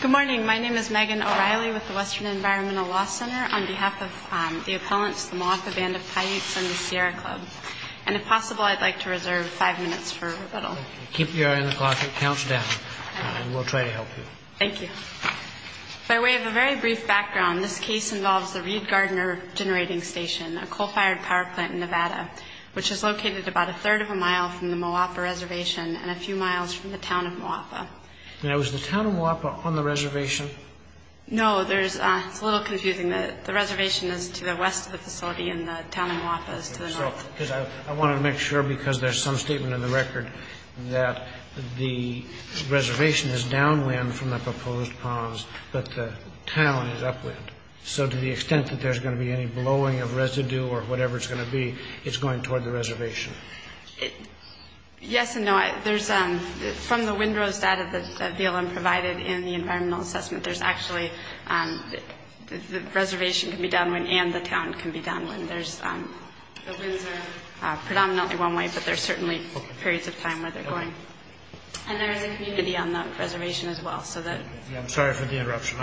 Good morning, my name is Megan O'Reilly with the Western Environmental Law Center on behalf of the appellants of the Moapa Band of Paiutes from the Sierra Club. And if possible, I'd like to reserve five minutes for rebuttal. Keep your interglottic count down, and we'll try to help you. Thank you. So we have a very brief background. This case involves the Reed Gardner Generating Station, a coal-fired power plant in Nevada, which is located about a third of a mile from the Moapa Reservation and a few miles from the town of Moapa. Now, is the town of Moapa on the reservation? No, it's a little confusing. The reservation is to the west of the facility, and the town of Moapa is to the north. I wanted to make sure, because there's some statement in the record, that the reservation is downwind from the proposed ponds, but the town is upwind. So to the extent that there's going to be any blowing of residue or whatever it's going to be, it's going toward the reservation. Yes and no. From the windrows data that DLM provided in the environmental assessment, the reservation can be downwind and the town can be downwind. The winds are predominantly one way, but there are certainly periods of time where they're going. And there is a community on the reservation as well. Sorry for the interruption.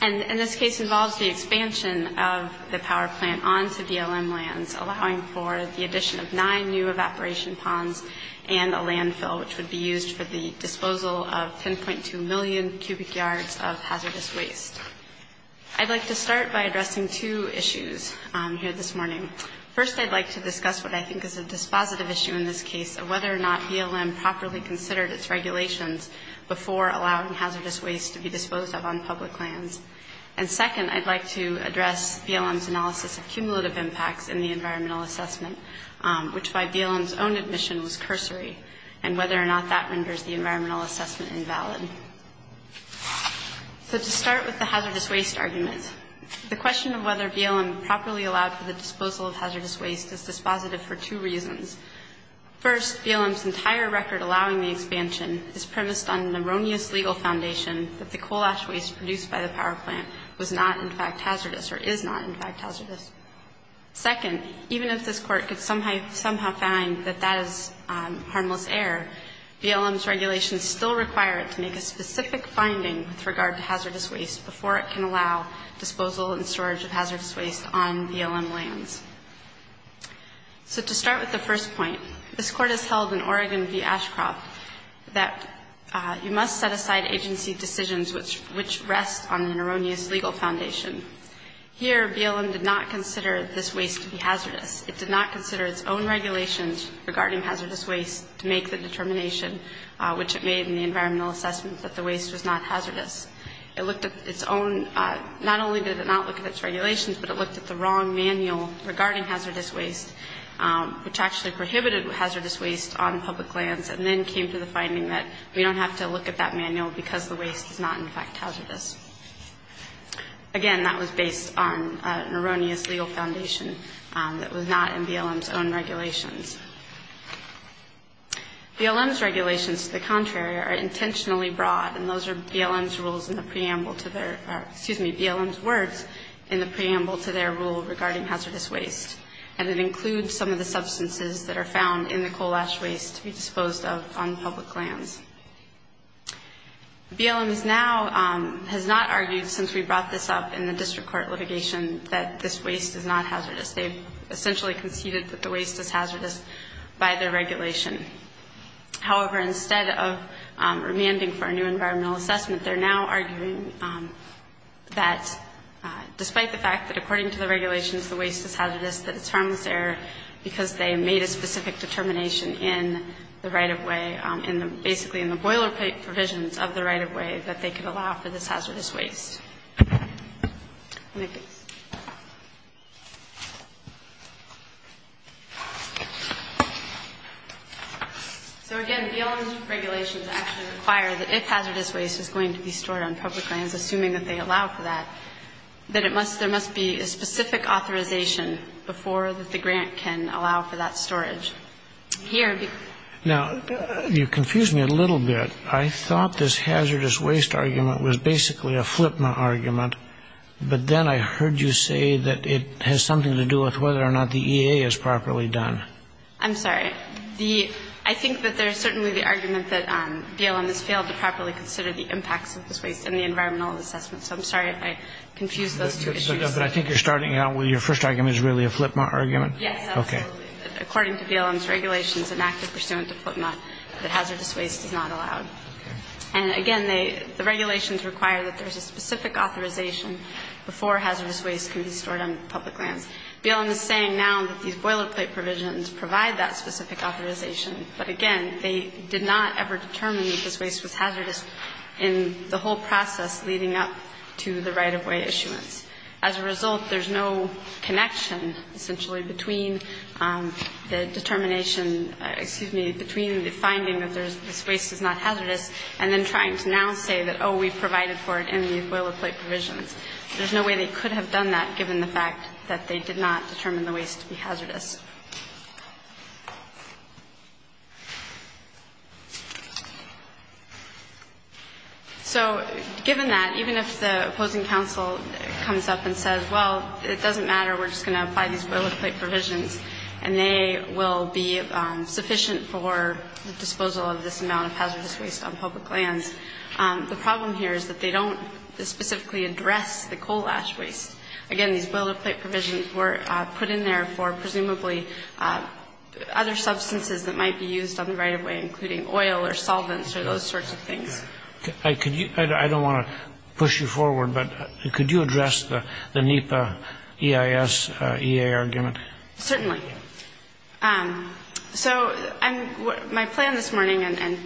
And this case involves the expansion of the power plant onto DLM lands, allowing for the addition of nine new evaporation ponds and a landfill, which would be used for the disposal of 10.2 million cubic yards of hazardous waste. I'd like to start by addressing two issues here this morning. First, I'd like to discuss what I think is a dispositive issue in this case, and whether or not DLM properly considered its regulations before allowing hazardous waste to be disposed of on public lands. And second, I'd like to address DLM's analysis of cumulative impacts in the environmental assessment, which by DLM's own admission was cursory, and whether or not that renders the environmental assessment invalid. So to start with the hazardous waste argument, the question of whether DLM properly allowed for the disposal of hazardous waste is dispositive for two reasons. First, DLM's entire record allowing the expansion is premised on an erroneous legal foundation that the coal ash waste produced by the power plant was not in fact hazardous, or is not in fact hazardous. Second, even if this court could somehow find that that is harmless air, DLM's regulations still require it to make a specific finding with regard to hazardous waste before it can allow disposal and storage of hazardous waste on DLM lands. So to start with the first point, this court has held in Oregon v. Ashcroft that you must set aside agency decisions which rest on an erroneous legal foundation. Here, DLM did not consider this waste to be hazardous. It did not consider its own regulations regarding hazardous waste to make the determination, which it made in the environmental assessment, that the waste was not hazardous. It looked at its own, not only did it not look at its regulations, but it looked at the wrong manual regarding hazardous waste, which actually prohibited hazardous waste on public lands, and then came to the finding that we don't have to look at that manual because the waste is not in fact hazardous. Again, that was based on an erroneous legal foundation that was not in DLM's own regulations. DLM's regulations, to the contrary, are intentionally broad, and those are DLM's rules in the preamble to their, or excuse me, DLM's words in the preamble to their rule regarding hazardous waste, and it includes some of the substances that are found in the coal ash waste to be disposed of on public lands. DLM now has not argued, since we brought this up in the district court litigation, that this waste is not hazardous. They've essentially competed that the waste was hazardous by their regulation. However, instead of remanding for a new environmental assessment, they're now arguing that, despite the fact that according to the regulations, the waste is hazardous, it's from their, because they made a specific determination in the right-of-way, basically in the boilerplate provisions of the right-of-way, that they could allow for this hazardous waste. So again, DLM's regulations actually require that if hazardous waste is going to be stored on public lands, assuming that they allow for that, that it must, there must be a specific authorization before the grant can allow for that storage. Now, you confuse me a little bit. I thought this hazardous waste argument was basically a flipment argument, but then I heard you say that it has something to do with whether or not the EA is properly done. I'm sorry. I think that there's certainly the argument that DLM has failed to properly consider the impacts of this waste and the environmental assessment. So I'm sorry if I confused those two issues. But I think you're starting out with your first argument is really a flipment argument? Yes. Okay. According to DLM's regulations and active pursuance of flipment, the hazardous waste is not allowed. And again, the regulations require that there's a specific authorization before hazardous waste can be stored on public lands. DLM is saying now that these boilerplate provisions provide that specific authorization. But again, they did not ever determine that this waste was hazardous in the whole process leading up to the right-of-way issuance. As a result, there's no connection, essentially, between the determination, excuse me, between the finding that this waste is not hazardous and then trying to now say that, oh, we've provided for it in these boilerplate provisions. There's no way they could have done that given the fact that they did not determine the waste to be hazardous. So given that, even if the opposing counsel comes up and says, well, it doesn't matter, we're just going to apply these boilerplate provisions and they will be sufficient for the disposal of this amount of hazardous waste on public land, the problem here is that they don't specifically address the coal ash waste. Again, these boilerplate provisions were put in there for presumably other substances that might be used on the right-of-way, including oil or solvents or those sorts of things. I don't want to push you forward, but could you address the NEPA EIS EA argument? Certainly. So my plan this morning, and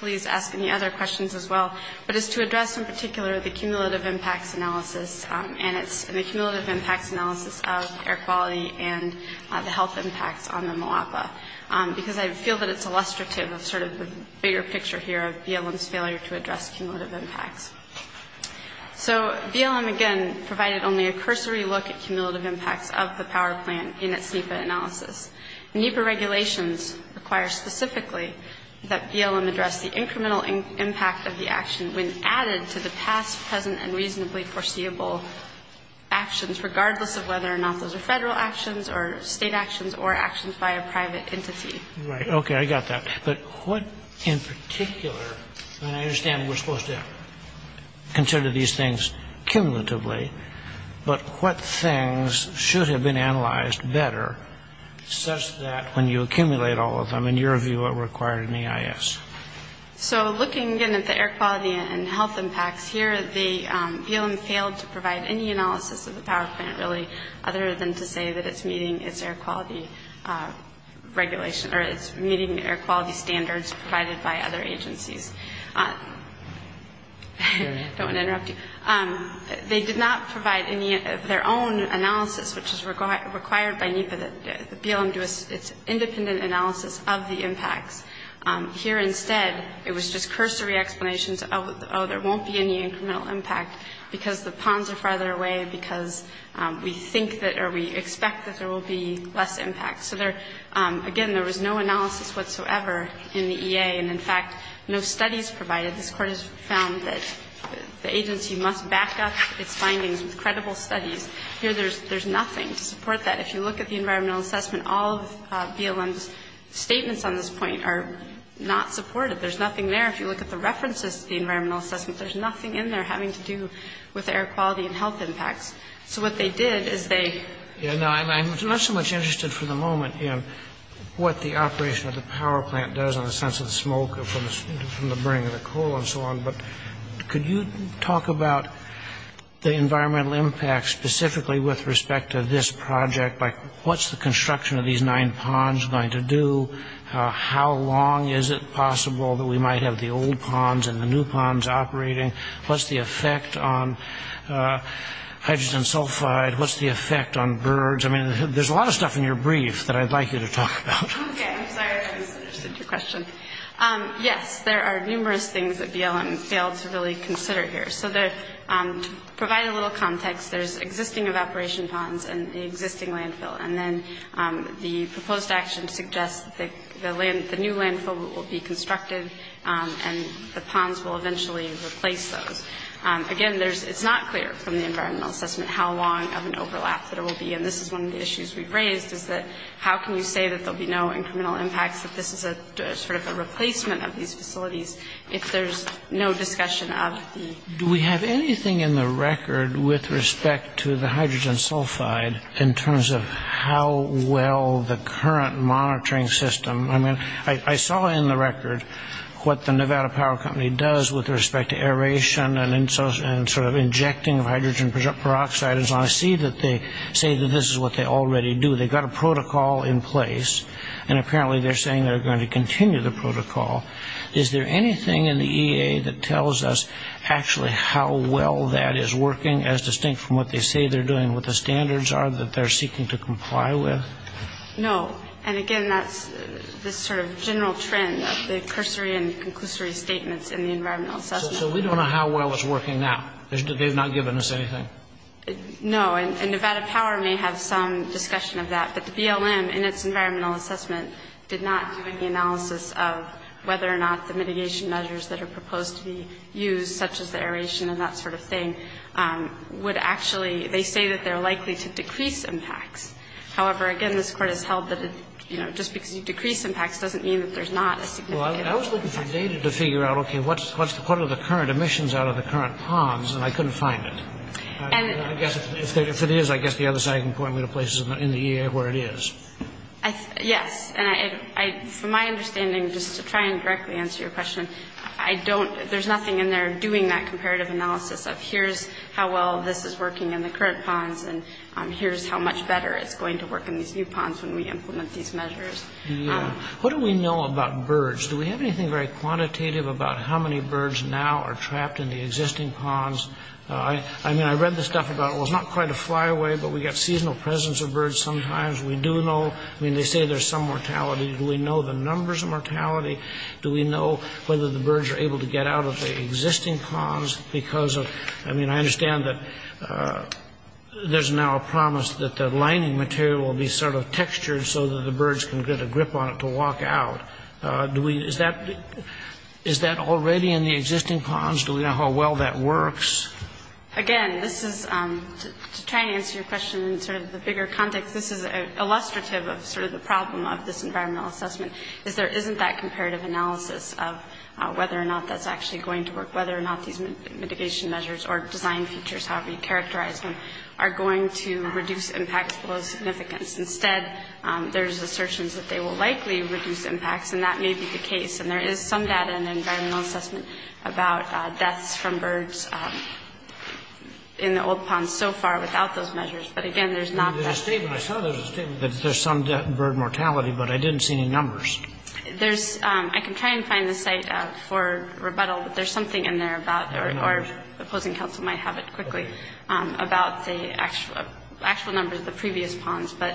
please ask any other questions as well, but it's to address in particular the cumulative impact analysis and the cumulative impact analysis of air quality and the health impact on the Moapa, because I feel that it's illustrative of sort of the bigger picture here of BLM's failure to address cumulative impact. So BLM, again, provided only a cursory look at cumulative impact of the power plant in its NEPA analysis. NEPA regulations require specifically that BLM address the incremental impact of the action when added to the past, present, and reasonably foreseeable actions, regardless of whether or not those are federal actions or state actions or actions by a private entity. Right. Okay. I got that. But what in particular, and I understand we're supposed to consider these things cumulatively, but what things should have been analyzed better such that when you accumulate all of them, in your view, what were required in the EIS? So looking, again, at the air quality and health impact, here the BLM failed to provide any analysis of the power plant, really, other than to say that it's meeting its air quality regulation or it's meeting the air quality standards provided by other agencies. Don't want to interrupt you. They did not provide any of their own analysis, which is required by NEPA, that BLM do an independent analysis of the impact. Here, instead, it was just cursory explanations of, oh, there won't be any incremental impact, because the ponds are farther away, because we think that or we expect that there will be less impact. So, again, there was no analysis whatsoever in the EA, and, in fact, no studies provided. This Court has found that the agency must back up its findings with credible studies. Here, there's nothing to support that. If you look at the environmental assessment, all of BLM's statements on this point are not supported. There's nothing there. If you look at the references to the environmental assessment, there's nothing in there having to do with air quality and health impact. So what they did is they- I'm not so much interested for the moment in what the operation of the power plant does in the sense of smoke from the burning of the coal and so on, but could you talk about the environmental impact specifically with respect to this project? Like, what's the construction of these nine ponds going to do? How long is it possible that we might have the old ponds and the new ponds operating? What's the effect on hydrogen sulfide? What's the effect on birds? I mean, there's a lot of stuff in your brief that I'd like you to talk about. Okay, I'm sorry I didn't get to your question. Yes, there are numerous things that BLM failed to really consider here. So to provide a little context, there's existing evaporation ponds and the existing landfill, and then the proposed action suggests that the new landfill will be constructed and the ponds will eventually replace those. Again, it's not clear from the environmental assessment how long of an overlap there will be, and this is one of the issues we've raised is that how can we say that there will be no incremental impact if this is sort of a replacement of these facilities if there's no discussion of the- Do we have anything in the record with respect to the hydrogen sulfide in terms of how well the current monitoring system- I mean, I saw in the record what the Nevada Power Company does with respect to aeration and sort of injecting hydrogen peroxide, and so I see that they say that this is what they already do. They've got a protocol in place, and apparently they're saying they're going to continue the protocol. Is there anything in the EA that tells us actually how well that is working, as distinct from what they say they're doing, what the standards are that they're seeking to comply with? No, and again, that's this sort of general trend of the cursory and the conclusory statements in the environmental assessment. So we don't know how well it's working now. They've not given us anything. No, and Nevada Power may have some discussion of that, but the BLM in its environmental assessment did not have any analysis of whether or not the mitigation measures that are proposed to be used, such as the aeration and that sort of thing, would actually- they say that they're likely to decrease impact. However, again, this Court has held that just because you decrease impact doesn't mean that there's not a significant impact. Well, I was looking for data to figure out, okay, what are the current emissions out of the current ponds, and I couldn't find it. If it is, I guess the other side can point me to places in the EA where it is. Yes, and from my understanding, just to try and directly answer your question, I don't- there's nothing in there doing that comparative analysis of here's how well this is working in the current ponds, and here's how much better it's going to work in the new ponds when we implement these measures. What do we know about birds? Do we have anything very quantitative about how many birds now are trapped in the existing ponds? I mean, I read this stuff about it was not quite a flyaway, but we got seasonal presence of birds sometimes. We do know- I mean, they say there's some mortality. Do we know the numbers of mortality? Do we know whether the birds are able to get out of the existing ponds because of- I mean, I understand that there's now a promise that the lining material will be sort of textured so that the birds can get a grip on it to walk out. Is that already in the existing ponds? Do we know how well that works? Again, this is- to try and answer your question in sort of the bigger context, this is illustrative of sort of the problem of this environmental assessment, is there isn't that comparative analysis of whether or not that's actually going to work, whether or not these mitigation measures or design features have been characterized and are going to reduce impact below significance. Instead, there's assertions that they will likely reduce impacts, and that may be the case, and there is some data in the environmental assessment about deaths from birds in the old ponds so far without those measures, but again, there's not- I saw that there's some bird mortality, but I didn't see any numbers. There's- I can try and find the site for rebuttal, but there's something in there about- or the Floating Council might have it quickly- about the actual numbers of previous ponds. Do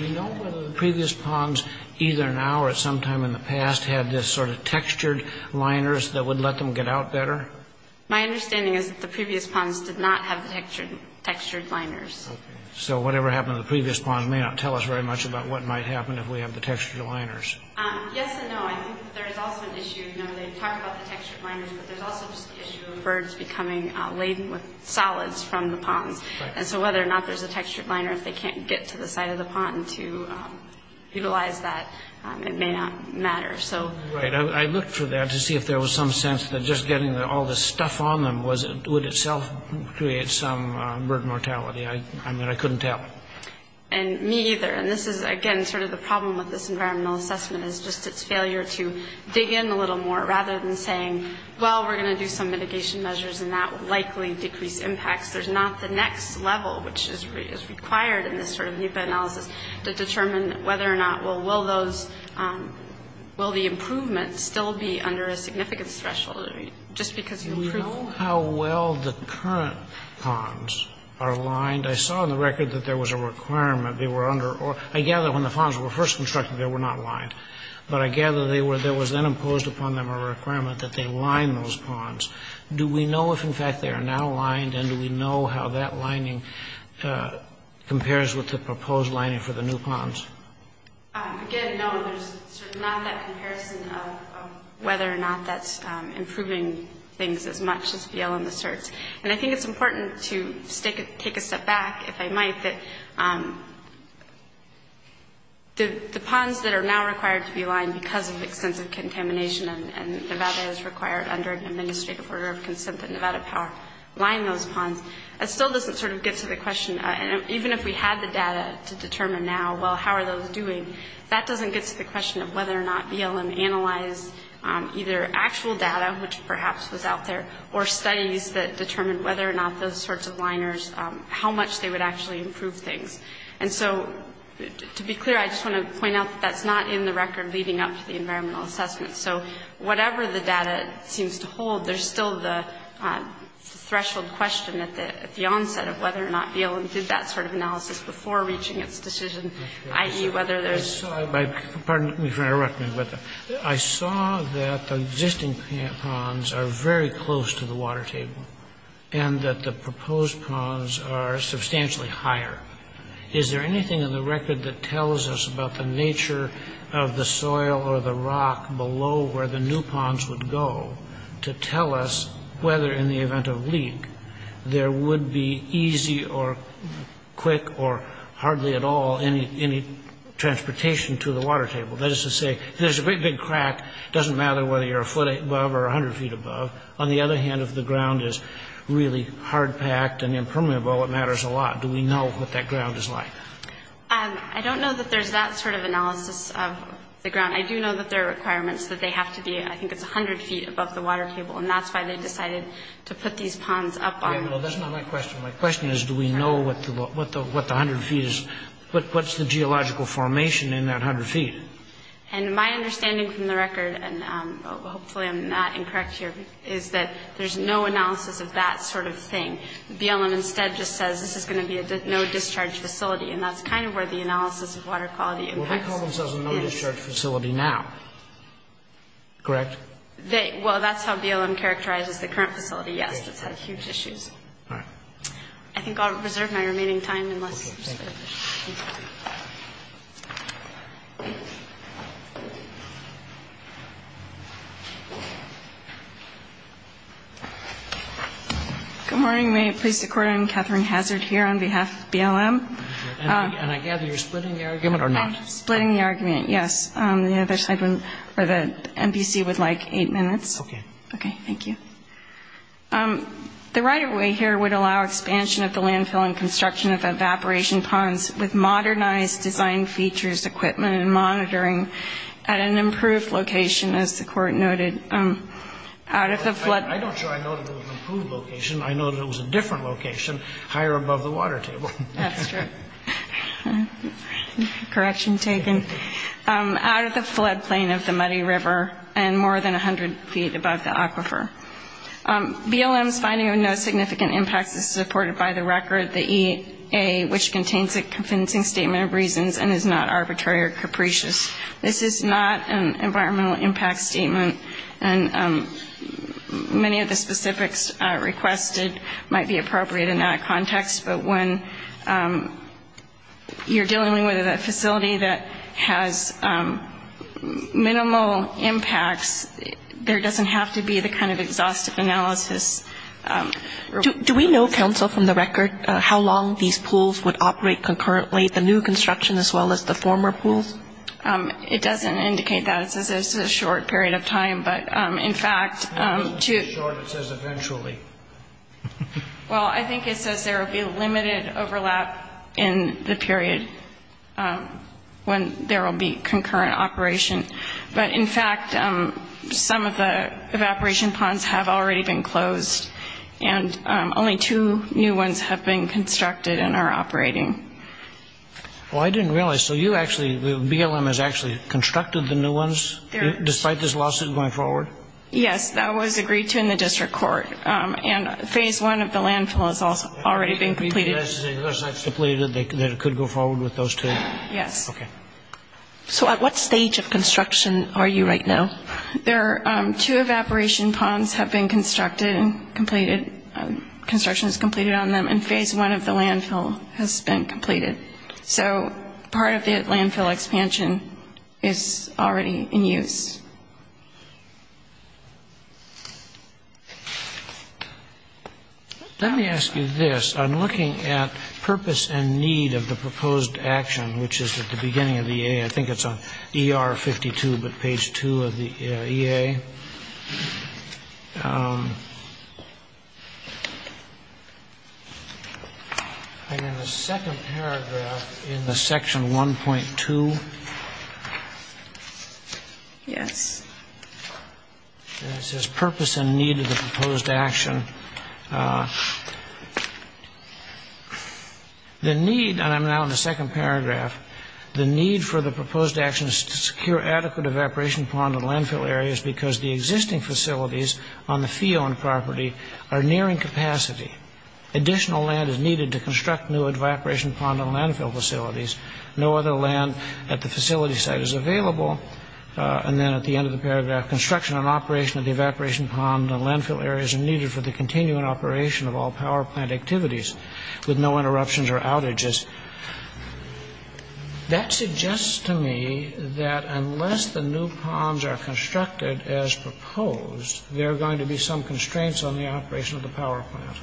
we know whether the previous ponds, either now or sometime in the past, had this sort of textured liners that would let them get out better? My understanding is that the previous ponds did not have the textured liners. So whatever happened to the previous pond may not tell us very much about what might happen if we have the textured liners. Yes and no. I think there's also the issue, you know, they talk about the textured liners, but there's also the issue of birds becoming laden with solids from the pond, and so whether or not there's a textured liner, if they can't get to the side of the pond to utilize that, it may not matter. I looked for that to see if there was some sense that just getting all this stuff on them would itself create some bird mortality. I mean, I couldn't tell. And me either, and this is, again, sort of the problem with this environmental assessment is just its failure to dig in a little more rather than saying, well, we're going to do some mitigation measures and that will likely decrease impacts. There's not the next level which is required in this sort of meta-analysis to determine whether or not, well, will the improvement still be under a significant threshold? Do we know how well the current ponds are lined? I saw on the record that there was a requirement. I gather when the ponds were first constructed they were not lined, but I gather there was then imposed upon them a requirement that they line those ponds. Do we know if, in fact, they are now lined, and do we know how that lining compares with the proposed lining for the new ponds? Again, no. There's not that comparison of whether or not that's improving things as much as the elements are. And I think it's important to take a step back, if I might, that the ponds that are now required to be lined because of exclusive contamination and Nevada is required under the Administrative Order of Consent to Nevada Power to line those ponds, it still doesn't sort of get to the question, even if we had the data to determine now, well, how are those doing, that doesn't get to the question of whether or not BLM analyzed either actual data, which perhaps was out there, or studies that determined whether or not those sorts of liners, how much they would actually improve things. And so, to be clear, I just want to point out that's not in the record leading up to the environmental assessment. So, whatever the data seems to hold, there's still the threshold question at the onset of whether or not BLM did that sort of analysis before reaching its decision, i.e., whether there's... I saw that the existing plant ponds are very close to the water table, and that the proposed ponds are substantially higher. Is there anything in the record that tells us about the nature of the soil or the rock below where the new ponds would go to tell us whether, in the event of a leak, there would be easy or quick or hardly at all any transportation to the water table? That is to say, if there's a great big crack, it doesn't matter whether you're a foot above or a hundred feet above. On the other hand, if the ground is really hard-packed and impermeable, it matters a lot. Do we know what that ground is like? I don't know that there's that sort of analysis of the ground. I do know that there are requirements that they have to be, I think it's a hundred feet above the water table, and that's why they decided to put these ponds up on... Well, that's not my question. My question is, do we know what the hundred feet is... What's the geological formation in that hundred feet? And my understanding from the record, and hopefully I'm not incorrect here, is that there's no analysis of that sort of thing. BLM instead just says this is going to be a no-discharge facility, and that's kind of where the analysis of water quality impacts. Well, they call themselves a no-discharge facility now, correct? Well, that's how BLM characterizes the current facility, yes. It has huge issues. All right. I think I'll reserve my remaining time and let... Okay, thank you. Good morning. May it please the Court, I'm Catherine Hazard here on behalf of BLM. And I gather you're splitting the argument or not? Splitting the argument, yes. The NBC would like eight minutes. Okay. Okay, thank you. The right-of-way here would allow expansion of the landfill and construction of evaporation ponds and the use of water. With modernized design features, equipment, and monitoring at an improved location, as the Court noted, out of the floodplain. I'm not sure I noted an improved location. I noted it was a different location higher above the water table. That's true. Correction taken. Out of the floodplain of the Muddy River and more than 100 feet above the aquifer. BLM's finding of no significant impact is reported by the record, which contains a convincing statement of reasons and is not arbitrary or capricious. This is not an environmental impact statement. And many of the specifics requested might be appropriate in that context. But when you're dealing with a facility that has minimal impact, there doesn't have to be the kind of exhaustive analysis. Do we know, counsel, from the record, how long these pools would operate concurrently, the new construction as well as the former pools? It doesn't indicate that. It says it's a short period of time. But, in fact, to – It doesn't say short. It says eventually. Well, I think it says there will be limited overlap in the period when there will be concurrent operation. But, in fact, some of the evaporation ponds have already been closed and only two new ones have been constructed and are operating. Well, I didn't realize. So you actually – BLM has actually constructed the new ones despite this lawsuit going forward? Yes. That was agreed to in the district court. And phase one of the landfill has already been completed. That's to believe that it could go forward with those two? Yes. Okay. So at what stage of construction are you right now? There are two evaporation ponds have been constructed and completed. Construction is completed on them. And phase one of the landfill has been completed. So part of the landfill expansion is already in use. Let me ask you this. I'm looking at purpose and need of the proposed action, which is at the beginning of the EA. I think it's on ER-52, but page two of the EA. And in the second paragraph in the section 1.2, it says purpose and need of the proposed action. The need – and I'm now in the second paragraph. The need for the proposed action is to secure adequate evaporation pond and landfill areas because the existing facilities on the Fion property are nearing capacity. Additional land is needed to construct new evaporation pond and landfill facilities. No other land at the facility site is available. And then at the end of the paragraph, construction and operation of the evaporation pond and landfill areas are needed for the continuing operation of all power plant activities with no interruptions or outages. That suggests to me that unless the new ponds are constructed as proposed, there are going to be some constraints on the operation of the power plant.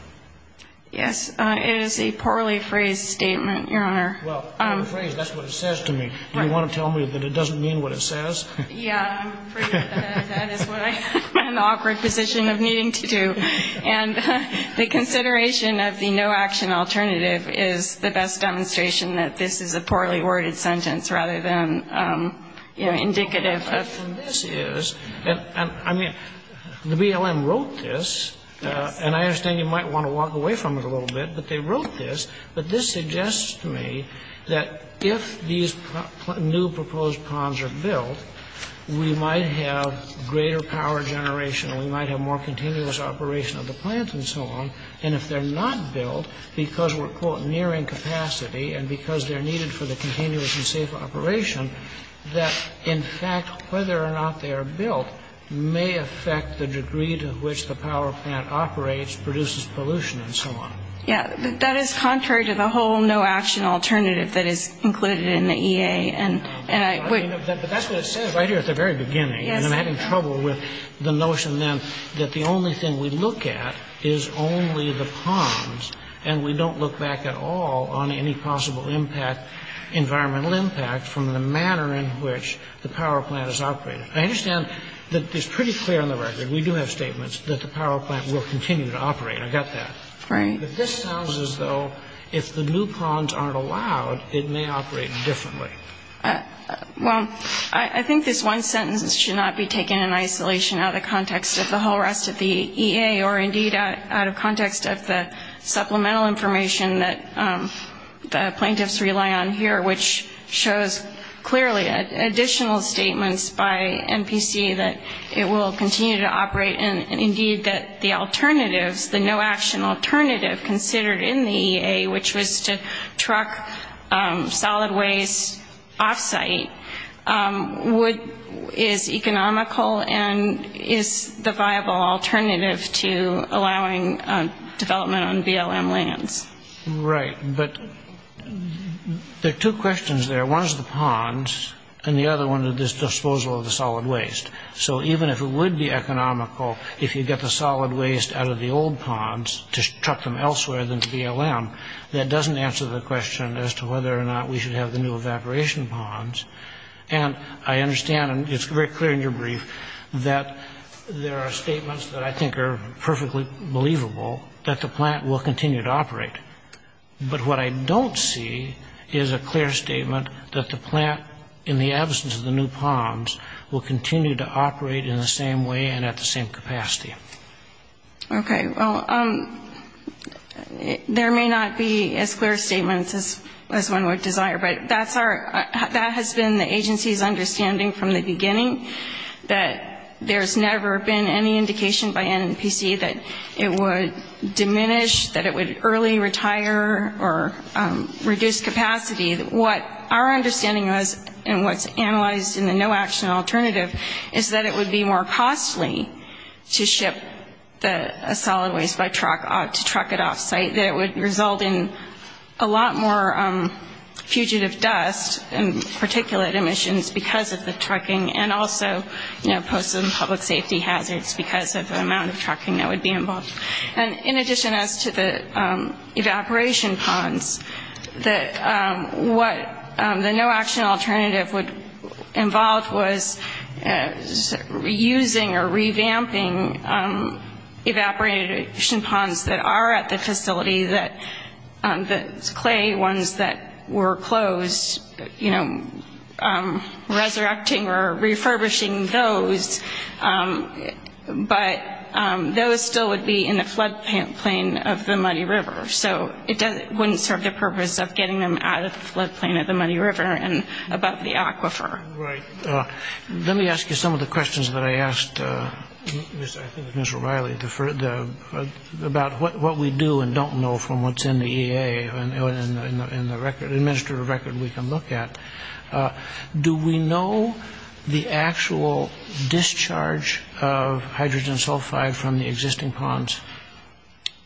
Yes, it is a poorly phrased statement, Your Honor. Well, I'm afraid that's what it says to me. You want to tell me that it doesn't mean what it says? Yeah, I'm afraid that is what I'm in the awkward position of needing to do. And the consideration of the no action alternative is the best demonstration that this is a poorly worded sentence rather than, you know, indicative. The problem with this is – I mean, the BLM wrote this. And I understand you might want to walk away from it a little bit, but they wrote this. But this suggests to me that if these new proposed ponds are built, we might have greater power generation and we might have more continuous operation of the plant and so on. And if they're not built because we're, quote, nearing capacity and because they're needed for the continuous and safe operation, that, in fact, whether or not they are built may affect the degree to which the power plant operates, produces pollution, and so on. Yeah, that is contrary to the whole no action alternative that is included in the EA. But that's what it said right here at the very beginning. And I'm having trouble with the notion then that the only thing we look at is only the ponds and we don't look back at all on any possible environmental impact from the manner in which the power plant is operating. I understand that it's pretty clear on the record, and we do have statements, that the power plant will continue to operate. I got that. But this sounds as though if the new ponds aren't allowed, it may operate differently. Well, I think this one sentence should not be taken in isolation out of context of the whole rest of the EA or indeed out of context of the supplemental information that the plaintiffs rely on here, which shows clearly additional statements by MPC that it will continue to operate and indeed that the alternative, the no action alternative considered in the EA, which was to truck solid waste off-site is economical and is the viable alternative to allowing development on BLM land. Right, but there are two questions there. One is the ponds, and the other one is the disposal of the solid waste. So even if it would be economical if you get the solid waste out of the old ponds to truck them elsewhere than to BLM, that doesn't answer the question as to whether or not we should have the new evaporation ponds. And I understand, and it's very clear in your brief, that there are statements that I think are perfectly believable that the plant will continue to operate. But what I don't see is a clear statement that the plant in the absence of the new ponds will continue to operate in the same way and at the same capacity. Okay, well, there may not be as clear statements as one would desire, but that has been the agency's understanding from the beginning that there's never been any indication by MNPC that it would diminish, that it would early retire or reduce capacity. What our understanding was, and what's analyzed in the no-action alternative, is that it would be more costly to ship the solid waste by truck to truck it off-site. That it would result in a lot more fugitive dust and particulate emissions because of the trucking and also, you know, post and public safety hazards because of the amount of trucking that would be involved. And in addition to the evaporation ponds, that what the no-action alternative would involve was reusing or revamping evaporation ponds that are at the facility, the clay ones that were closed, you know, resurrecting or refurbishing those. But those still would be in the floodplain of the Muddy River, so it wouldn't serve the purpose of getting them out of the floodplain of the Muddy River and above the aquifer. Right. Let me ask you some of the questions that I asked, I think it was Mr. O'Reilly, about what we do and don't know from what's in the EA, in the administrative record we can look at. Do we know the actual discharge of hydrogen sulfide from the existing ponds?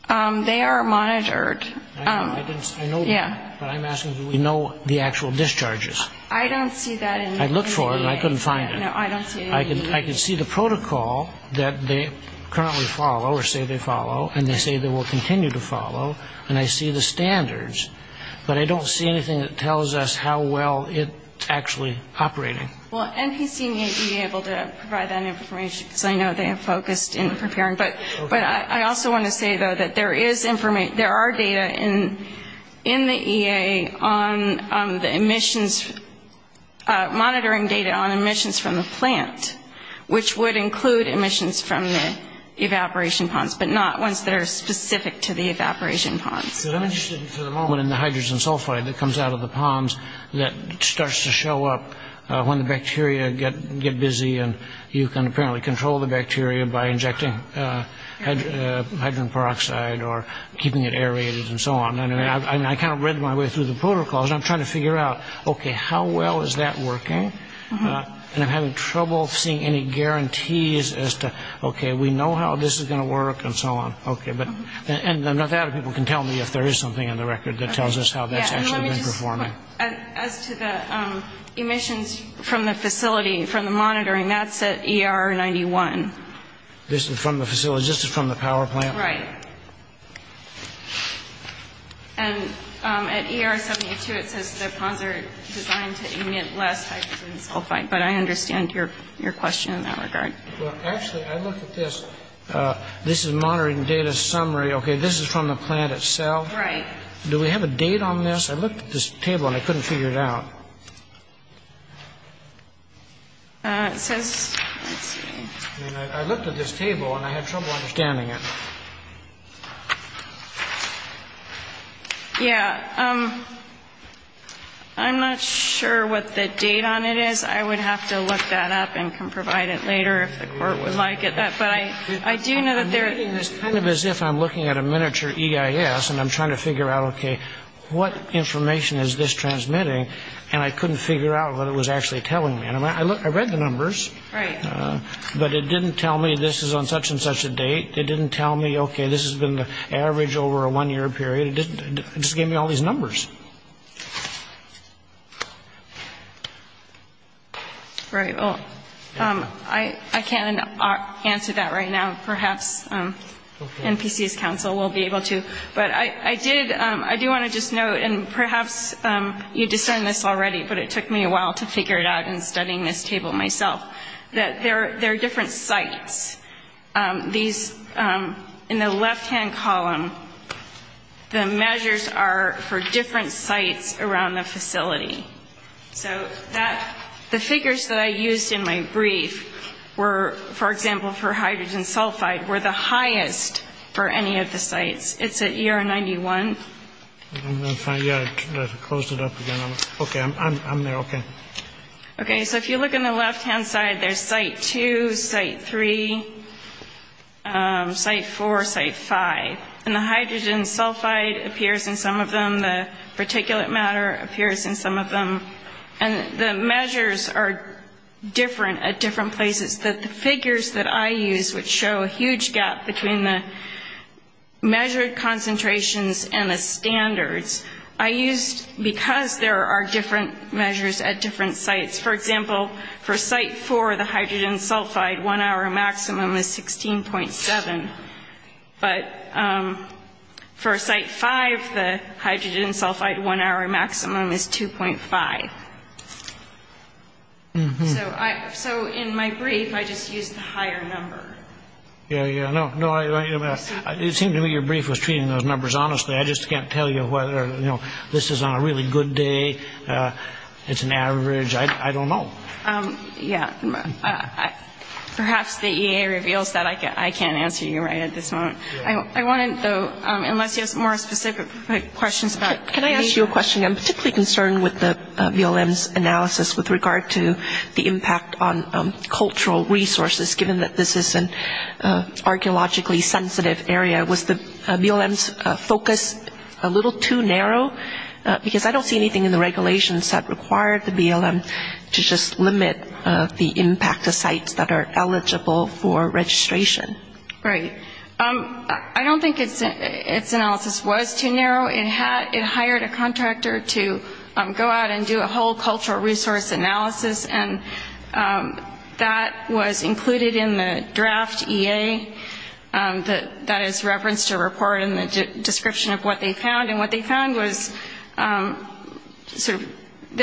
They are monitored. I know that, but I'm asking do we know the actual discharges? I don't see that in the EA. I looked for it and I couldn't find it. No, I don't see it either. I can see the protocol that they currently follow or say they follow, and they say they will continue to follow, and I see the standards, but I don't see anything that tells us how well it's actually operating. Well, NPC may be able to provide that information, because I know they are focused in preparing, but I also want to say, though, that there are data in the EA on the emissions, monitoring data on emissions from the plant, which would include emissions from the evaporation ponds, but not ones that are specific to the evaporation ponds. Because I'm interested for the moment in the hydrogen sulfide that comes out of the ponds that starts to show up when the bacteria get busy, and you can apparently control the bacteria by injecting hydrogen peroxide or keeping it aerated and so on. And I kind of read my way through the protocols. I'm trying to figure out, okay, how well is that working? And I'm having trouble seeing any guarantees as to, okay, we know how this is going to work and so on. Okay, and the Nevada people can tell me if there is something on the record that tells us how that's actually been performing. As to the emissions from the facility, from the monitoring, that's at ER 91. This is from the facility? This is from the power plant? Right. And at ER 72, it says the ponds are designed to emit less hydrogen sulfide, but I understand your question in that regard. Well, actually, I looked at this. This is monitoring data summary. Okay, this is from the plant itself. Right. Do we have a date on this? I looked at this table and I couldn't figure it out. I looked at this table and I had trouble understanding it. Yeah, I'm not sure what the date on it is. I would have to look that up and provide it later if the court would like it. It's kind of as if I'm looking at a miniature EIS and I'm trying to figure out, okay, what information is this transmitting? And I couldn't figure out what it was actually telling me. I read the numbers, but it didn't tell me this is on such and such a date. It didn't tell me, okay, this has been the average over a one-year period. It just gave me all these numbers. All right, well, I can't answer that right now. Perhaps NPC's counsel will be able to. But I do want to just note, and perhaps you discerned this already, but it took me a while to figure it out in studying this table myself, that there are different sites. In the left-hand column, the measures are for different sites around the facility. So the figures that I used in my brief were, for example, for hydrogen sulfide, were the highest for any of the sites. It's at year 91. Yeah, I closed it up again. Okay, I'm there, okay. Okay, so if you look in the left-hand side, there's Site 2, Site 3, Site 4, Site 5. And the hydrogen sulfide appears in some of them. The particulate matter appears in some of them. And the measures are different at different places. The figures that I used would show a huge gap between the measured concentrations and the standards. I used, because there are different measures at different sites, for example, for Site 4, the hydrogen sulfide one-hour maximum is 16.7. But for Site 5, the hydrogen sulfide one-hour maximum is 2.5. So in my brief, I just used a higher number. Yeah, yeah. It seems to me your brief was treating those numbers honestly. I just can't tell you whether, you know, this is on a really good day, it's an average. I don't know. Yeah, perhaps the EA reveals that I can't answer you right at this moment. I wanted to, unless you have more specific questions. Can I ask you a question? I'm particularly concerned with the BLM's analysis with regard to the impact on cultural resources, given that this is an archeologically sensitive area. Was the BLM's focus a little too narrow? Because I don't see anything in the regulations that require the BLM to just limit the impact of sites that are eligible for registration. Right. I don't think its analysis was too narrow. It hired a contractor to go out and do a whole cultural resource analysis, and that was included in the draft EA that is referenced to report in the description of what they found. And what they found was there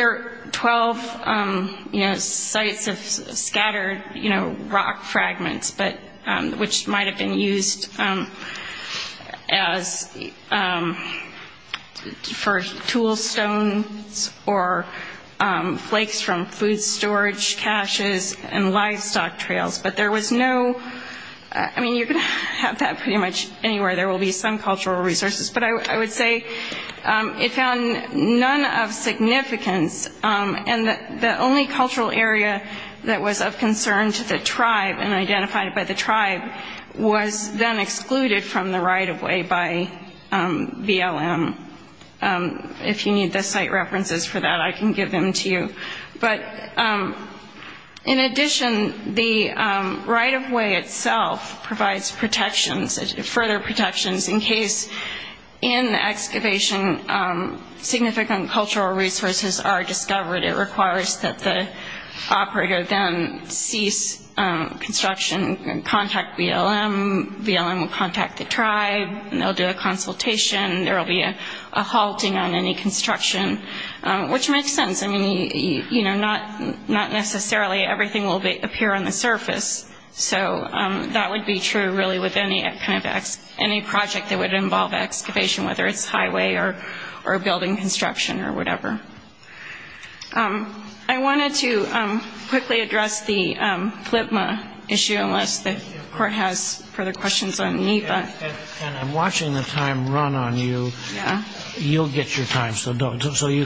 are 12, you know, sites of scattered, you know, rock fragments, which might have been used for tool stones or flakes from food storage caches and livestock trails. But there was no, I mean, you can tap that pretty much anywhere. There will be some cultural resources. But I would say it found none of significance, and the only cultural area that was of concern to the tribe and identified by the tribe was then excluded from the right-of-way by BLM. If you need the site references for that, I can give them to you. But in addition, the right-of-way itself provides protections, further protections, in case in the excavation significant cultural resources are discovered. It requires that the operator then cease construction and contact BLM. BLM will contact the tribe, and they'll do a consultation. There will be a halting on any construction, which makes sense. I mean, you know, not necessarily everything will appear on the surface. So that would be true, really, with any project that would involve excavation, whether it's highway or building construction or whatever. I wanted to quickly address the FLPMA issue, unless the court has further questions on NEPA. And I'm watching the time run on you. You'll get your time, so you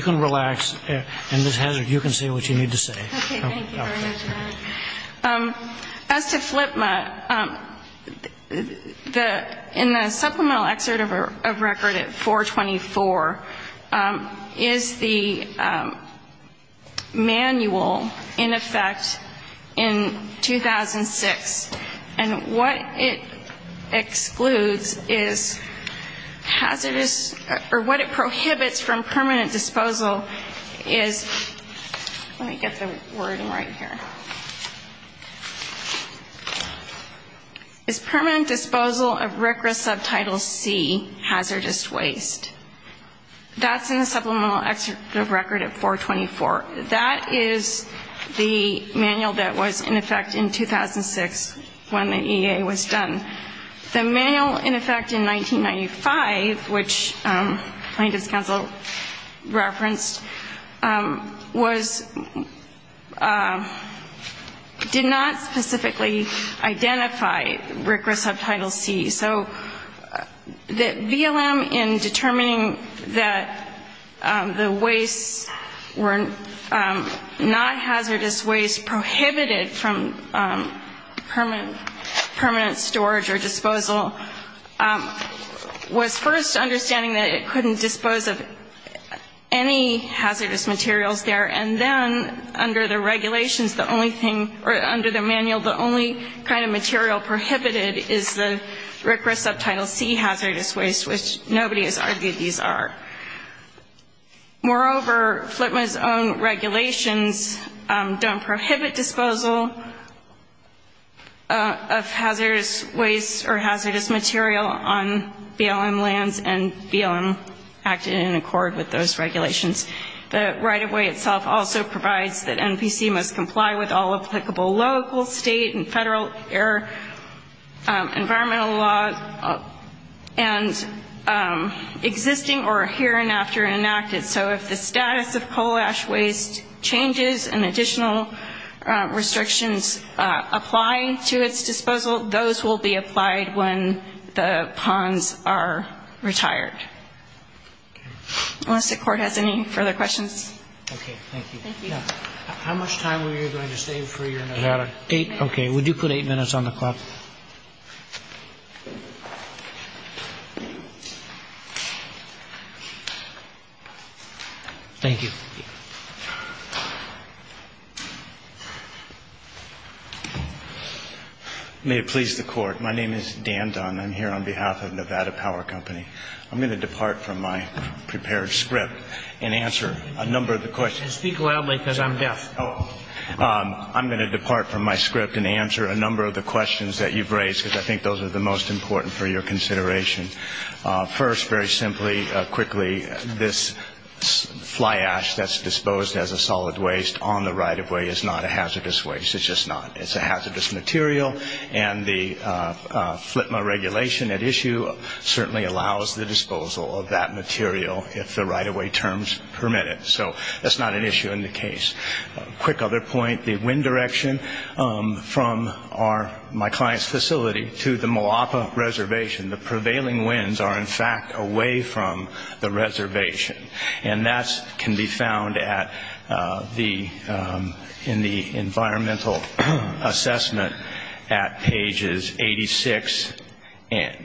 can relax. And Ms. Hazard, you can say what you need to say. Okay, thank you very much. As to FLPMA, in the supplemental excerpt of record at 424 is the manual in effect in 2006. And what it excludes is hazardous or what it prohibits from permanent disposal is permanent disposal of RCRA subtitle C, hazardous waste. That's in the supplemental excerpt of record at 424. That is the manual that was in effect in 2006 when the EA was done. The manual in effect in 1995, which plaintiff's counsel referenced, did not specifically identify RCRA subtitle C. So VLM, in determining that the waste were not hazardous waste prohibited from permanent storage or disposal, was first understanding that it couldn't dispose of any hazardous materials there. And then, under the regulations, the only thing, or under the manual, the only kind of material prohibited is the RCRA subtitle C hazardous waste, which nobody has argued these are. Moreover, FLPMA's own regulations don't prohibit disposal of hazardous waste or hazardous material on VLM lands, and VLM acted in accord with those regulations. The right-of-way itself also provides that NVC must comply with all applicable local, state, and federal environmental laws and existing or hereinafter enacted. So if the status of coal ash waste changes and additional restrictions apply to its disposal, those will be applied when the ponds are retired. Does the court have any further questions? Okay, thank you. Thank you. How much time are you going to stay for your Nevada? Eight. Okay. Would you put eight minutes on the clock? Thank you. May it please the court. My name is Dan Dunn. I'm here on behalf of Nevada Power Company. I'm going to depart from my prepared script and answer a number of the questions. Speak loudly because I'm deaf. I'm going to depart from my script and answer a number of the questions that you've raised, because I think those are the most important for your consideration. First, very simply, quickly, this fly ash that's disposed as a solid waste on the right-of-way is not a hazardous waste. It's just not. It's a hazardous material, and the FLTMA regulation at issue certainly allows the disposal of that material if the right-of-way terms permit it. So that's not an issue in the case. A quick other point, the wind direction from my client's facility to the Moapa Reservation, the prevailing winds are, in fact, away from the reservation. And that can be found in the environmental assessment at pages 86 and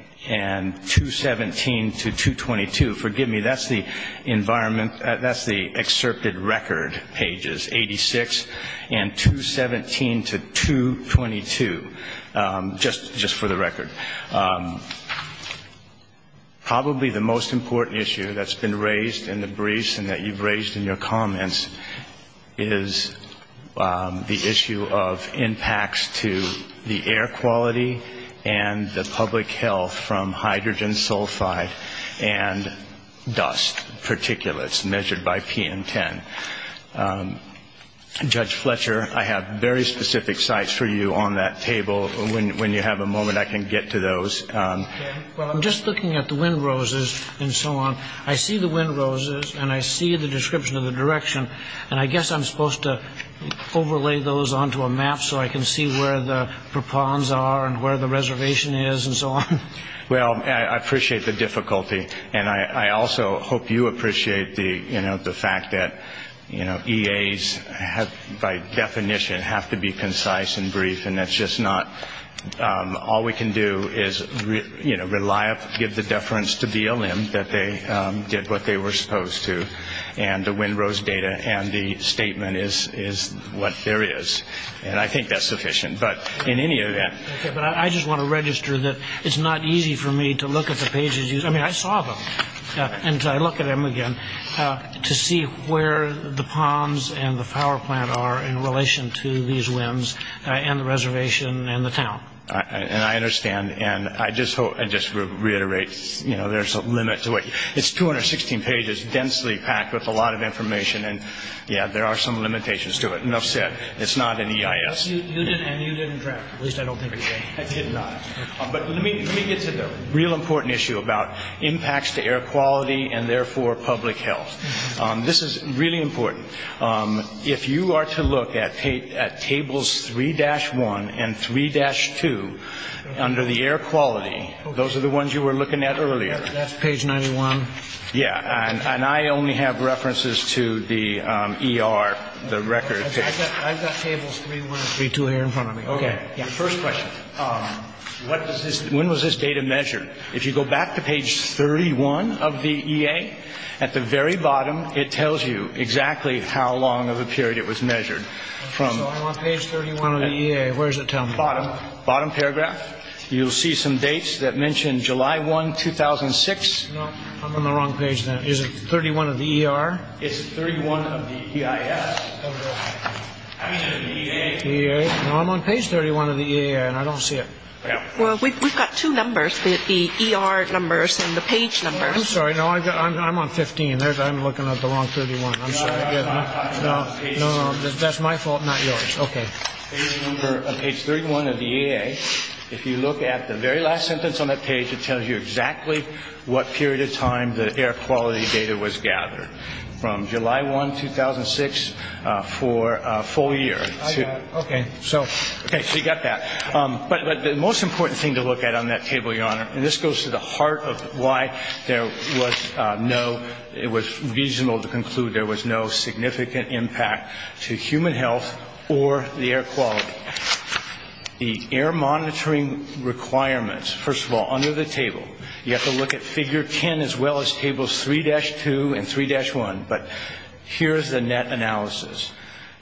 217 to 222. Forgive me, that's the excerpted record pages, 86 and 217 to 222, just for the record. Probably the most important issue that's been raised in the briefs and that you've raised in your comments is the issue of impacts to the air quality and the public health from hydrogen sulfide and dust particulates measured by PM10. Judge Fletcher, I have very specific sites for you on that table. When you have a moment, I can get to those. Well, I'm just looking at the wind roses and so on. I see the wind roses, and I see the description of the direction, and I guess I'm supposed to overlay those onto a map so I can see where the propons are and where the reservation is and so on. Well, I appreciate the difficulty, and I also hope you appreciate the fact that EAs, by definition, have to be concise and brief, and that's just not. All we can do is give the deference to BLM that they did what they were supposed to, and the wind rose data and the statement is what there is. And I think that's sufficient, but in any event. I just want to register that it's not easy for me to look at the pages. I mean, I saw them, and so I look at them again, to see where the ponds and the power plant are in relation to these winds and the reservation and the town. And I understand, and I just reiterate there's a limit to it. It's 216 pages, densely packed with a lot of information, and, yeah, there are some limitations to it. Enough said. It's not an EIS. And you didn't draft it. At least I don't think you did. But let me get to the real important issue about impacts to air quality and, therefore, public health. This is really important. If you are to look at tables 3-1 and 3-2 under the air quality, those are the ones you were looking at earlier. That's page 91. Yeah, and I only have references to the ER, the record. I've got tables 3-1 and 3-2 here in front of me. Okay, first question. When was this data measured? If you go back to page 31 of the EA, at the very bottom, it tells you exactly how long of a period it was measured. I'm on page 31 of the EA. Where does it tell me? Bottom, bottom paragraph. You'll see some dates that mention July 1, 2006. No, I'm on the wrong page now. Is it 31 of the ER? It's 31 of the EIS. I'm on page 31 of the EA, and I don't see it. Well, we've got two numbers, the ER numbers and the page numbers. I'm sorry. I'm on 15. I'm looking at the wrong 31. No, that's my fault, not yours. Okay. Page 31 of the EA, if you look at the very last sentence on that page, it tells you exactly what period of time the air quality data was gathered. From July 1, 2006 for a full year. Okay, so you got that. But the most important thing to look at on that table, Your Honor, and this goes to the heart of why it was reasonable to conclude there was no significant impact to human health or the air quality. The air monitoring requirements, first of all, under the table, you have to look at figure 10 as well as tables 3-2 and 3-1. But here's the net analysis.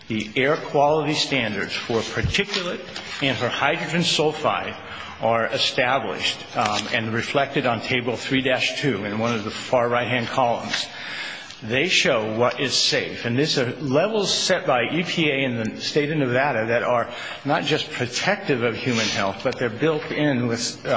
The air quality standards for particulate and for hydrogen sulfide are established and reflected on table 3-2 in one of the far right-hand columns. They show what is safe, and these are levels set by EPA in the state of Nevada that are not just protective of human health, but they're built in with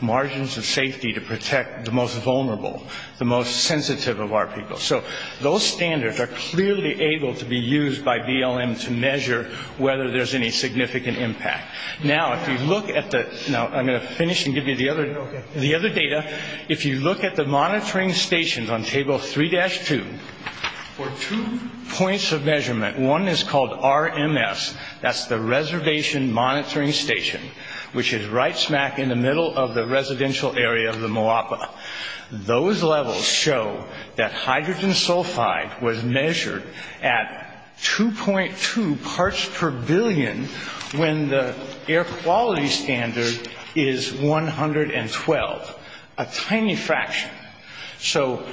margins of safety to protect the most vulnerable, the most sensitive of our people. So those standards are clearly able to be used by BLM to measure whether there's any significant impact. Now, if you look at the other data, if you look at the monitoring stations on table 3-2, for two points of measurement, one is called RMS, that's the Reservation Monitoring Station, which is right smack in the middle of the residential area of the Moapa. Those levels show that hydrogen sulfide was measured at 2.2 parts per billion when the air quality standard is 112, a tiny fraction. So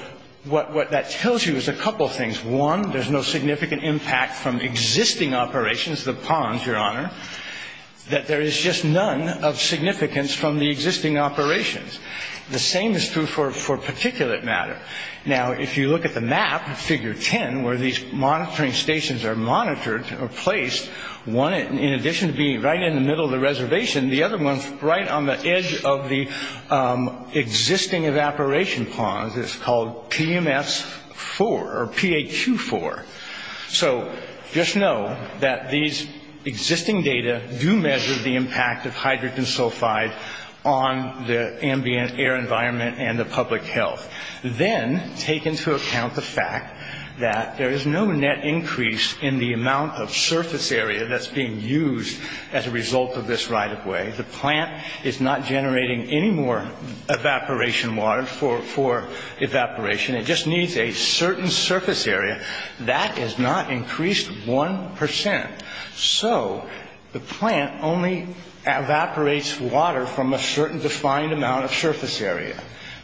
what that tells you is a couple things. One, there's no significant impact from existing operations, the ponds, Your Honor, that there is just none of significance from the existing operations. The same is true for particulate matter. Now, if you look at the map, figure 10, where these monitoring stations are monitored or placed, one, in addition to being right in the middle of the reservation, and the other one right on the edge of the existing evaporation pond is called PMS-4 or PAQ-4. So just know that these existing data do measure the impact of hydrogen sulfide on the ambient air environment and the public health. Then take into account the fact that there is no net increase in the amount of surface area that's being used as a result of this right-of-way. The plant is not generating any more evaporation water for evaporation. It just needs a certain surface area. That has not increased one percent. So the plant only evaporates water from a certain defined amount of surface area.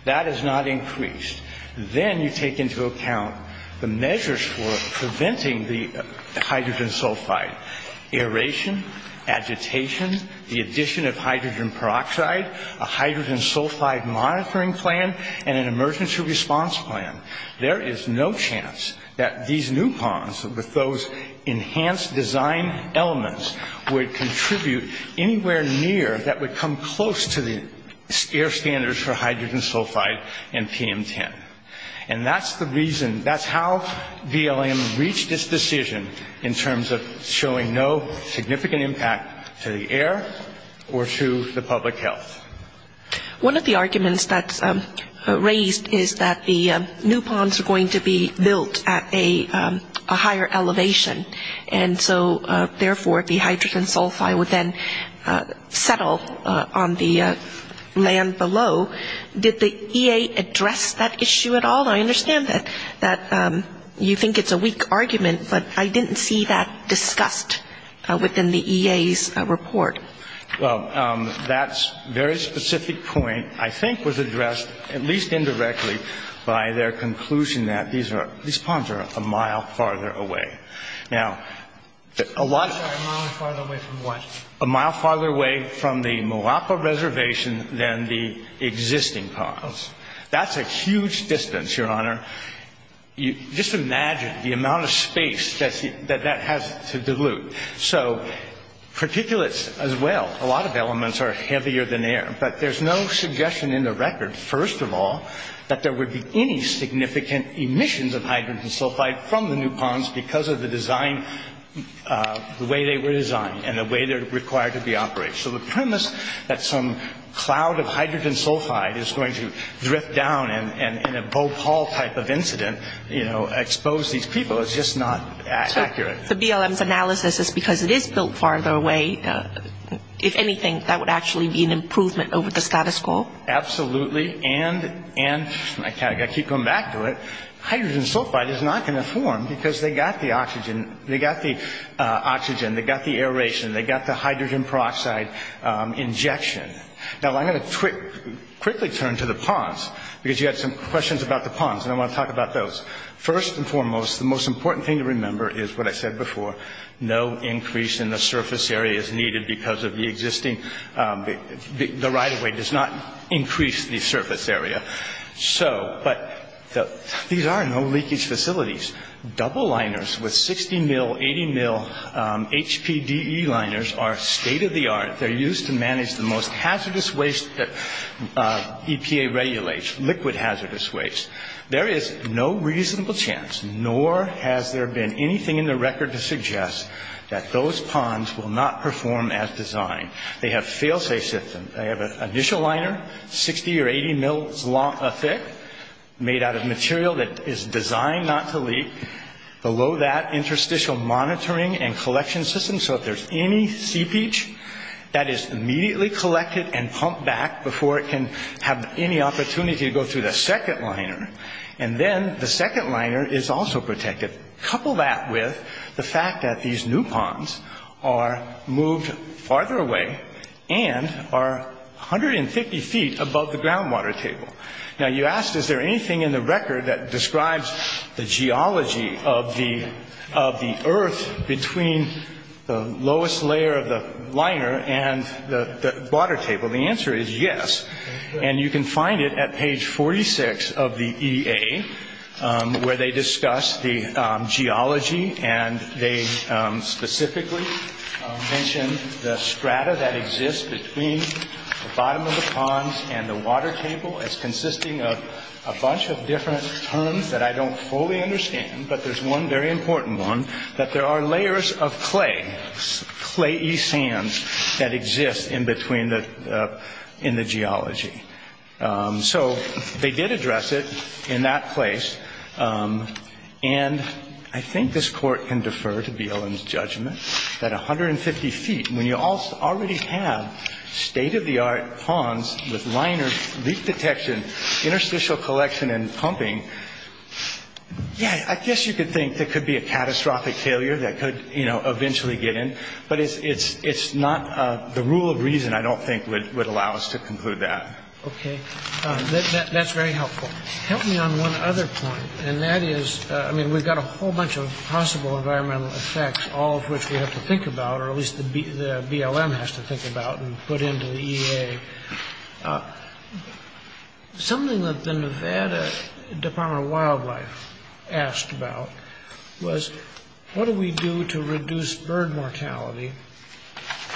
That has not increased. Then you take into account the measures for preventing the hydrogen sulfide, aeration, agitation, the addition of hydrogen peroxide, a hydrogen sulfide monitoring plan, and an emergency response plan. There is no chance that these new ponds with those enhanced design elements would contribute anywhere near that would come close to the air standards for hydrogen sulfide and PM10. That's how BLM reached this decision in terms of showing no significant impact to the air or to the public health. One of the arguments that's raised is that the new ponds are going to be built at a higher elevation, and so, therefore, the hydrogen sulfide would then settle on the land below. Did the EA address that issue at all? I understand that you think it's a weak argument, but I didn't see that discussed within the EA's report. That very specific point, I think, was addressed, at least indirectly, by their conclusion that these ponds are a mile farther away. A mile farther away from what? A mile farther away from the Moapa Reservation than the existing ponds. That's a huge distance, Your Honor. Just imagine the amount of space that that has to dilute. So particulates, as well, a lot of elements are heavier than air, but there's no suggestion in the record, first of all, that there would be any significant emissions of hydrogen sulfide from the new ponds because of the design, the way they were designed, and the way they're required to be operated. So the premise that some cloud of hydrogen sulfide is going to drip down and in a boat haul type of incident expose these people is just not accurate. The BLM's analysis is because it is built farther away. If anything, that would actually be an improvement over the status quo. Absolutely, and I keep coming back to it. Hydrogen sulfide is not going to form because they got the oxygen. They got the oxygen. They got the aeration. They got the hydrogen peroxide injection. Now, I'm going to quickly turn to the ponds because you had some questions about the ponds, and I want to talk about those. First and foremost, the most important thing to remember is what I said before, no increase in the surface area is needed because of the existing, the right-of-way does not increase the surface area. But these are no-leakage facilities. Double liners with 60 mil, 80 mil HPDE liners are state-of-the-art. They're used to manage the most hazardous waste that EPA regulates, liquid hazardous waste. There is no reasonable chance, nor has there been anything in the record to suggest, that those ponds will not perform as designed. They have fail-safe systems. They have an additional liner, 60 or 80 mil thick, made out of material that is designed not to leak. Below that, interstitial monitoring and collection systems, so if there's any seepage, that is immediately collected and pumped back before it can have any opportunity to go through the second liner. And then the second liner is also protected. Couple that with the fact that these new ponds are moved farther away and are 150 feet above the groundwater table. Now you ask, is there anything in the record that describes the geology of the earth between the lowest layer of the liner and the water table? Well, the answer is yes. And you can find it at page 46 of the EA, where they discuss the geology and they specifically mention the strata that exists between the bottom of the pond and the water table as consisting of a bunch of different terms that I don't fully understand, but there's one very important one, that there are layers of clay, clay-y sands that exist in the geology. So they did address it in that place. And I think this court can defer to BLM's judgment that 150 feet, when you already have state-of-the-art ponds with liners, leak detection, interstitial collection and pumping, I guess you could think there could be a catastrophic failure that could eventually get in, but the rule of reason, I don't think, would allow us to conclude that. Okay, that's very helpful. Help me on one other point, and that is, we've got a whole bunch of possible environmental effects, all of which we have to think about, or at least the BLM has to think about and put into the EA. Something that the Nevada Department of Wildlife asked about was, what do we do to reduce bird mortality?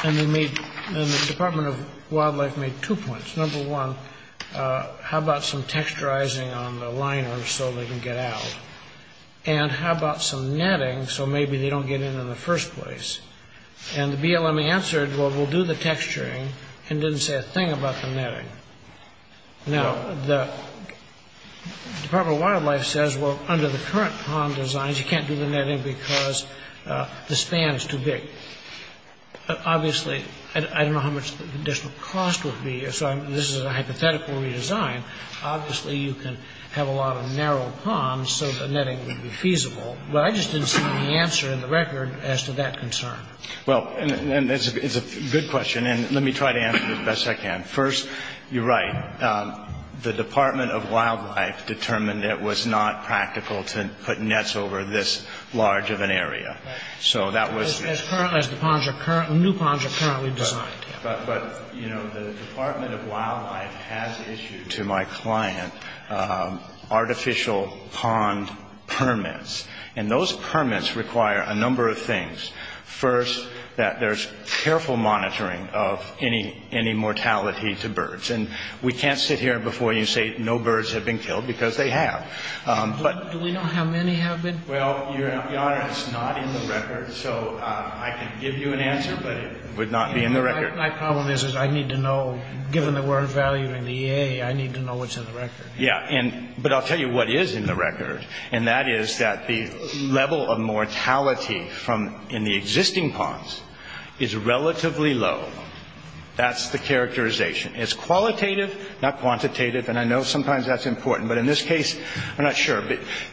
And the Department of Wildlife made two points. Number one, how about some texturizing on the liners so they can get out? And how about some netting so maybe they don't get in in the first place? And the BLM answered, well, we'll do the texturing, and didn't say a thing about the netting. Now, the Department of Wildlife says, well, under the current pond designs, you can't do the netting because the span is too big. Obviously, I don't know how much this will cost with media, so this is a hypothetical redesign. Obviously, you can have a lot of narrow ponds so the netting would be feasible, but I just didn't see the answer in the record as to that concern. Well, it's a good question, and let me try to answer it as best I can. First, you're right. The Department of Wildlife determined it was not practical to put nets over this large of an area. So that was... As new ponds are currently designed. But, you know, the Department of Wildlife has issued to my client artificial pond permits, and those permits require a number of things. First, that there's careful monitoring of any mortality to birds, and we can't sit here before you and say no birds have been killed because they have. Do we know how many have been? Well, Your Honor, it's not in the record, so I can give you an answer, but it would not be in the record. My problem is I need to know, given the word value and the EA, I need to know what's in the record. Yeah, but I'll tell you what is in the record, and that is that the level of mortality in the existing ponds is relatively low. That's the characterization. It's qualitative, not quantitative, and I know sometimes that's important, but in this case, I'm not sure.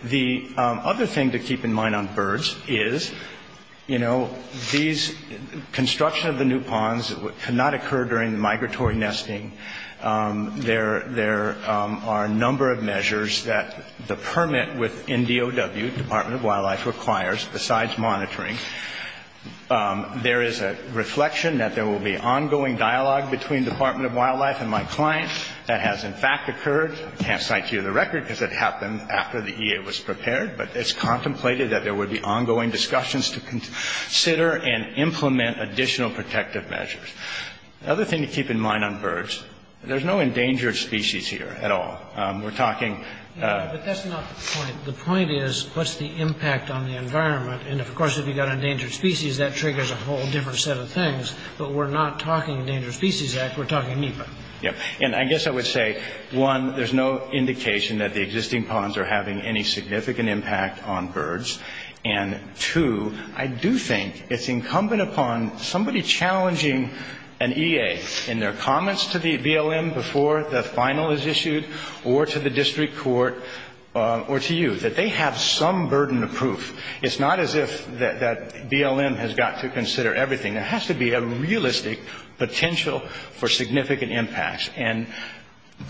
The other thing to keep in mind on birds is, you know, these construction of the new ponds cannot occur during the migratory nesting. There are a number of measures that the permit within DOW, Department of Wildlife, requires besides monitoring. There is a reflection that there will be ongoing dialogue between Department of Wildlife and my clients. That has, in fact, occurred. I can't cite to you the record because it happened after the EA was prepared, but it's contemplated that there would be ongoing discussions to consider and implement additional protective measures. The other thing to keep in mind on birds, there's no endangered species here at all. We're talking- No, but that's not the point. The point is what's the impact on the environment, and, of course, if you've got endangered species, that triggers a whole different set of things, but we're not talking Endangered Species Act, we're talking NEPA. Yeah, and I guess I would say, one, there's no indication that the existing ponds are having any significant impact on birds, and, two, I do think it's incumbent upon somebody challenging an EA in their comments to the BLM before the final is issued or to the district court or to you that they have some burden of proof. It's not as if that BLM has got to consider everything. There has to be a realistic potential for significant impacts, and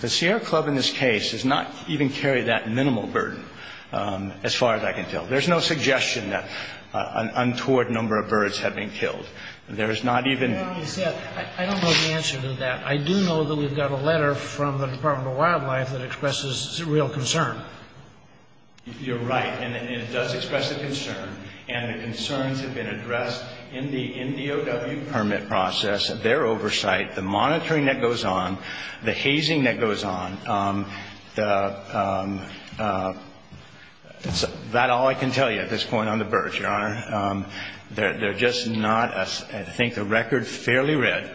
the Sierra Club in this case has not even carried that minimal burden as far as I can tell. There's no suggestion that an untoward number of birds have been killed. There's not even- I don't know the answer to that. I do know that we've got a letter from the Department of Wildlife that expresses real concern. You're right, and it does express a concern, and the concerns have been addressed in the NDOW permit process, their oversight, the monitoring that goes on, the hazing that goes on. That's all I can tell you at this point on the birds, Your Honor. They're just not, I think, a record fairly read.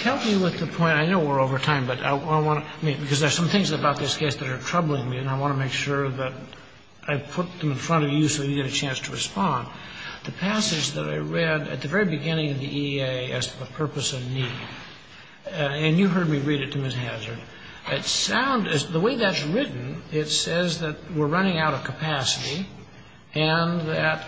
Help me with the point. I know we're over time, but I want to- because there's some things about this case that are troubling me, and I want to make sure that I put them in front of you so you get a chance to respond. The passage that I read at the very beginning of the EA as a purpose of need, and you heard me read it to Ms. Hazard, the way that's written, it says that we're running out of capacity and that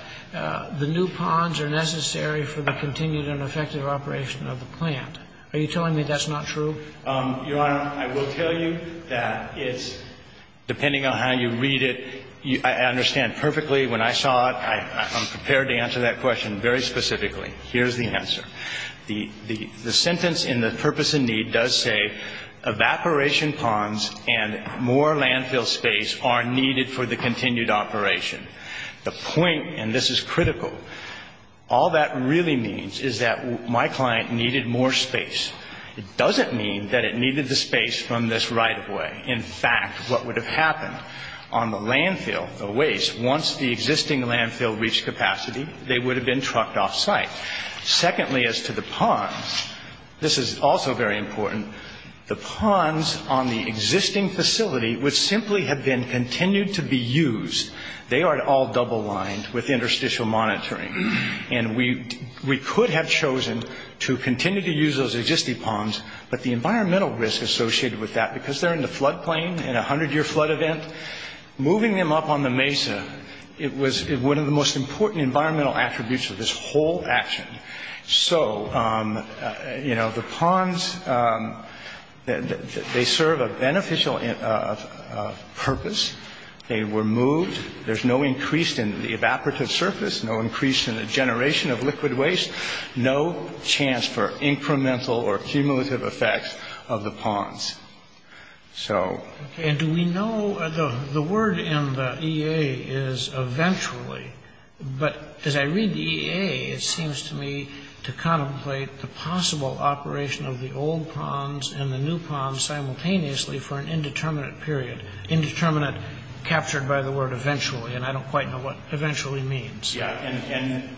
the new ponds are necessary for the continued and effective operation of the plant. Are you telling me that's not true? Your Honor, I will tell you that it's, depending on how you read it, I understand perfectly when I saw it, I'm prepared to answer that question very specifically. Here's the answer. The sentence in the purpose of need does say, evaporation ponds and more landfill space are needed for the continued operation. The point, and this is critical, all that really means is that my client needed more space. It doesn't mean that it needed the space from this right-of-way. In fact, what would have happened on the landfill, the waste, once the existing landfill reached capacity, they would have been trucked off-site. Secondly, as to the ponds, this is also very important, the ponds on the existing facility would simply have been continued to be used. They are all double-lined with interstitial monitoring, and we could have chosen to continue to use those existing ponds, but the environmental risk associated with that, because they're in the floodplain in a hundred-year flood event, moving them up on the mesa, it was one of the most important environmental attributes of this whole action. So, you know, the ponds, they serve a beneficial purpose. They were moved. There's no increase in the evaporative surface, no increase in the generation of liquid waste, no chance for incremental or cumulative effects of the ponds. And do we know, the word in the EA is eventually, but as I read the EA, it seems to me to contemplate the possible operation of the old ponds and the new ponds simultaneously for an indeterminate period, indeterminate, captured by the word eventually, and I don't quite know what eventually means. Yeah, and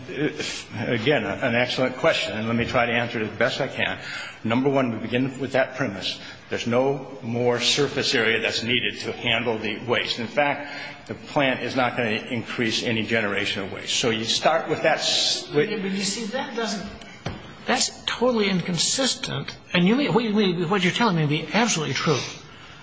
again, an excellent question, and let me try to answer it as best I can. Number one, we begin with that premise. There's no more surface area that's needed to handle the waste. In fact, the plant is not going to increase any generation of waste. So you start with that... That's totally inconsistent, and what you're telling me to be absolutely true, is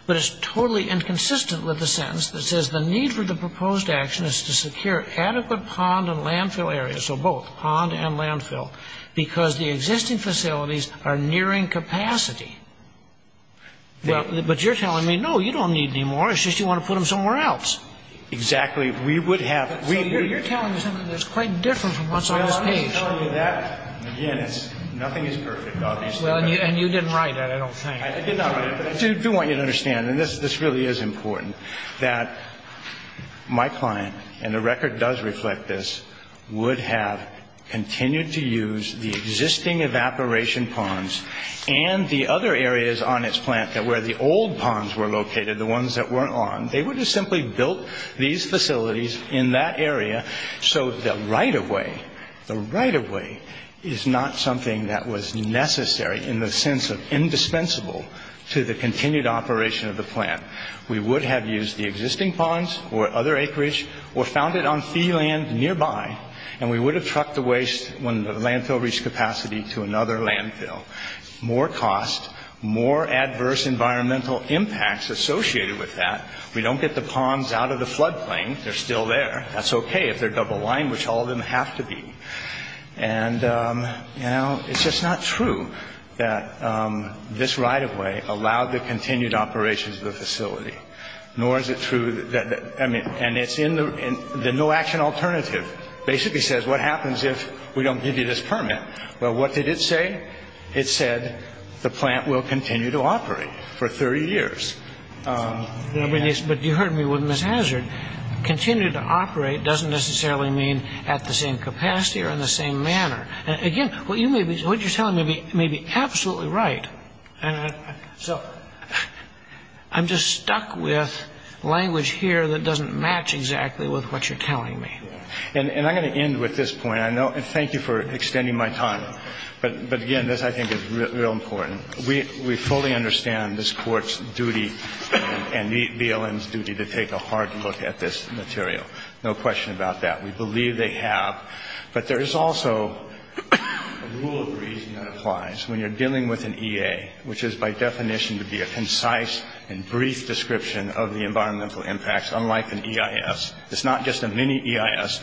that it's totally inconsistent with the sentence that says the need for the proposed action is to secure adequate pond and landfill areas, or both, pond and landfill, because the existing facilities are nearing capacity. But you're telling me, no, you don't need any more, it's just you want to put them somewhere else. Exactly, we would have... You're telling me something that's quite different from what's on this page. I'm not telling you that. Nothing is perfect, obviously. And you didn't write that, I don't think. I do want you to understand, and this really is important, that my client, and the record does reflect this, would have continued to use the existing evaporation ponds and the other areas on its plant where the old ponds were located, the ones that weren't on, they would have simply built these facilities in that area so the right-of-way, the right-of-way, is not something that was necessary in the sense of indispensable to the continued operation of the plant. We would have used the existing ponds or other acreage or found it on fee land nearby, and we would have trucked the waste when the landfill reached capacity to another landfill. More cost, more adverse environmental impacts associated with that. We don't get the ponds out of the floodplain, they're still there. That's okay if they're double-lined, which all of them have to be. And, you know, it's just not true that this right-of-way allowed the continued operations of the facility, nor is it true that, I mean, and it's in the no-action alternative. It basically says, what happens if we don't give you this permit? Well, what did it say? It said the plant will continue to operate for 30 years. But you heard me with Miss Hazard. Continuing to operate doesn't necessarily mean at the same capacity or in the same manner. Again, what you're telling me may be absolutely right. I'm just stuck with language here that doesn't match exactly with what you're telling me. And I'm going to end with this point. Thank you for extending my time. But, again, this I think is real important. We fully understand this court's duty and BLM's duty to take a hard look at this material. No question about that. We believe they have. But there is also a rule of reasoning that applies when you're dealing with an EA, which is by definition to be a concise and brief description of the environmental impacts, unlike an EIS. It's not just a mini-EIS.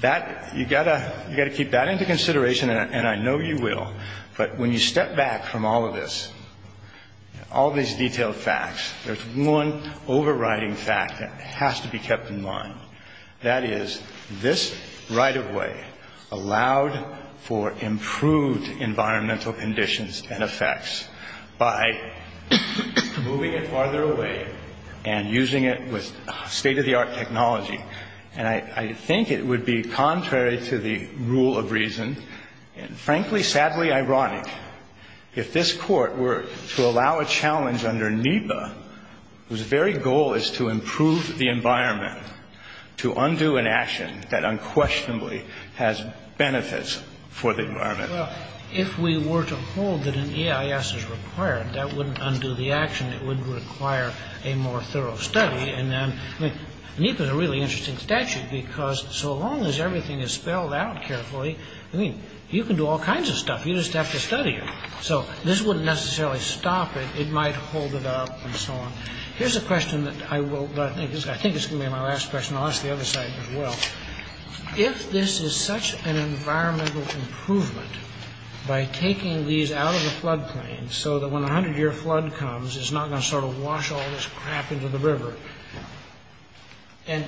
That, you've got to keep that into consideration, and I know you will. But when you step back from all of this, all these detailed facts, there's one overriding fact that has to be kept in mind. That is, this right-of-way allowed for improved environmental conditions and effects by moving it farther away and using it with state-of-the-art technology. And I think it would be contrary to the rule of reason, and frankly, sadly ironic, if this court were to allow a challenge under NEPA, whose very goal is to improve the environment, to undo an action that unquestionably has benefits for the environment. Well, if we were to hold that an EIS is required, that wouldn't undo the action. It wouldn't require a more thorough study. And NEPA's a really interesting statute because so long as everything is spelled out carefully, I mean, you can do all kinds of stuff. You just have to study it. So this wouldn't necessarily stop it. It might hold it up and so on. Here's a question that I think is going to be my last question. I'll ask the other side as well. If this is such an environmental improvement by taking these out of the flood plains so that when a hundred-year flood comes, it's not going to sort of wash all this crap into the river and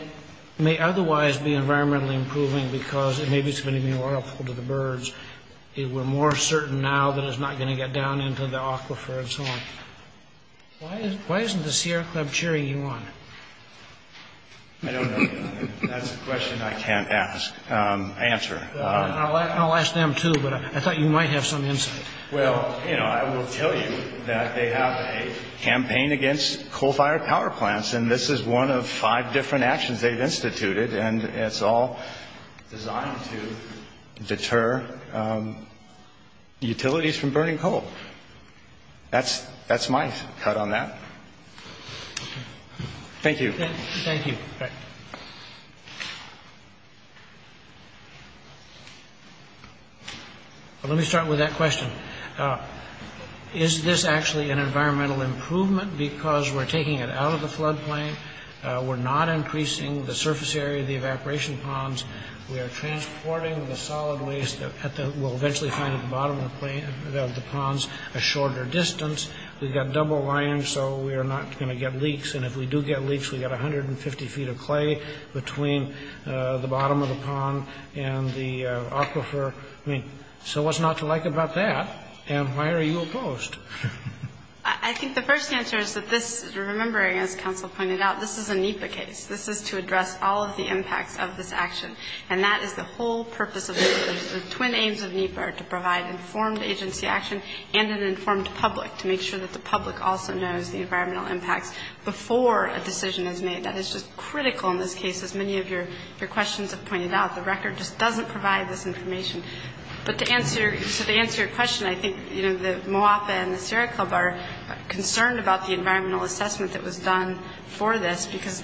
may otherwise be an environmental improvement because it may be extremely harmful to the birds if we're more certain now that it's not going to get down into the aquifer and so on. Why isn't the Sierra Club cherry you wanted? I don't know. That's a question I can't answer. I'll ask them too, but I thought you might have some insight. Well, I will tell you that they have a campaign against coal-fired power plants. And this is one of five different actions they've instituted. And it's all designed to deter utilities from burning coal. That's my cut on that. Thank you. Thank you. Let me start with that question. Is this actually an environmental improvement because we're taking it out of the flood plain? We're not increasing the surface area of the evaporation ponds. We are transporting the solid waste that we'll eventually find at the bottom of the ponds a shorter distance. We've got double linings, so we are not going to get leaks. And if we do get leaks, we've got 150 feet of clay between the bottom of the pond and the aquifer. So what's not to like about that? And why are you opposed? I think the first answer is that this is remembering, as Council pointed out, this is a NEPA case. This is to address all of the impacts of this action. And that is the whole purpose of NEPA. The twin aims of NEPA are to provide informed agency action and an informed public to make sure that the public also knows the environmental impact before a decision is made. That is just critical in this case, as many of your questions have pointed out. The record just doesn't provide this information. But to answer your question, I think, you know, the Moapa and the Sierra Club are concerned about the environmental assessment that was done for this because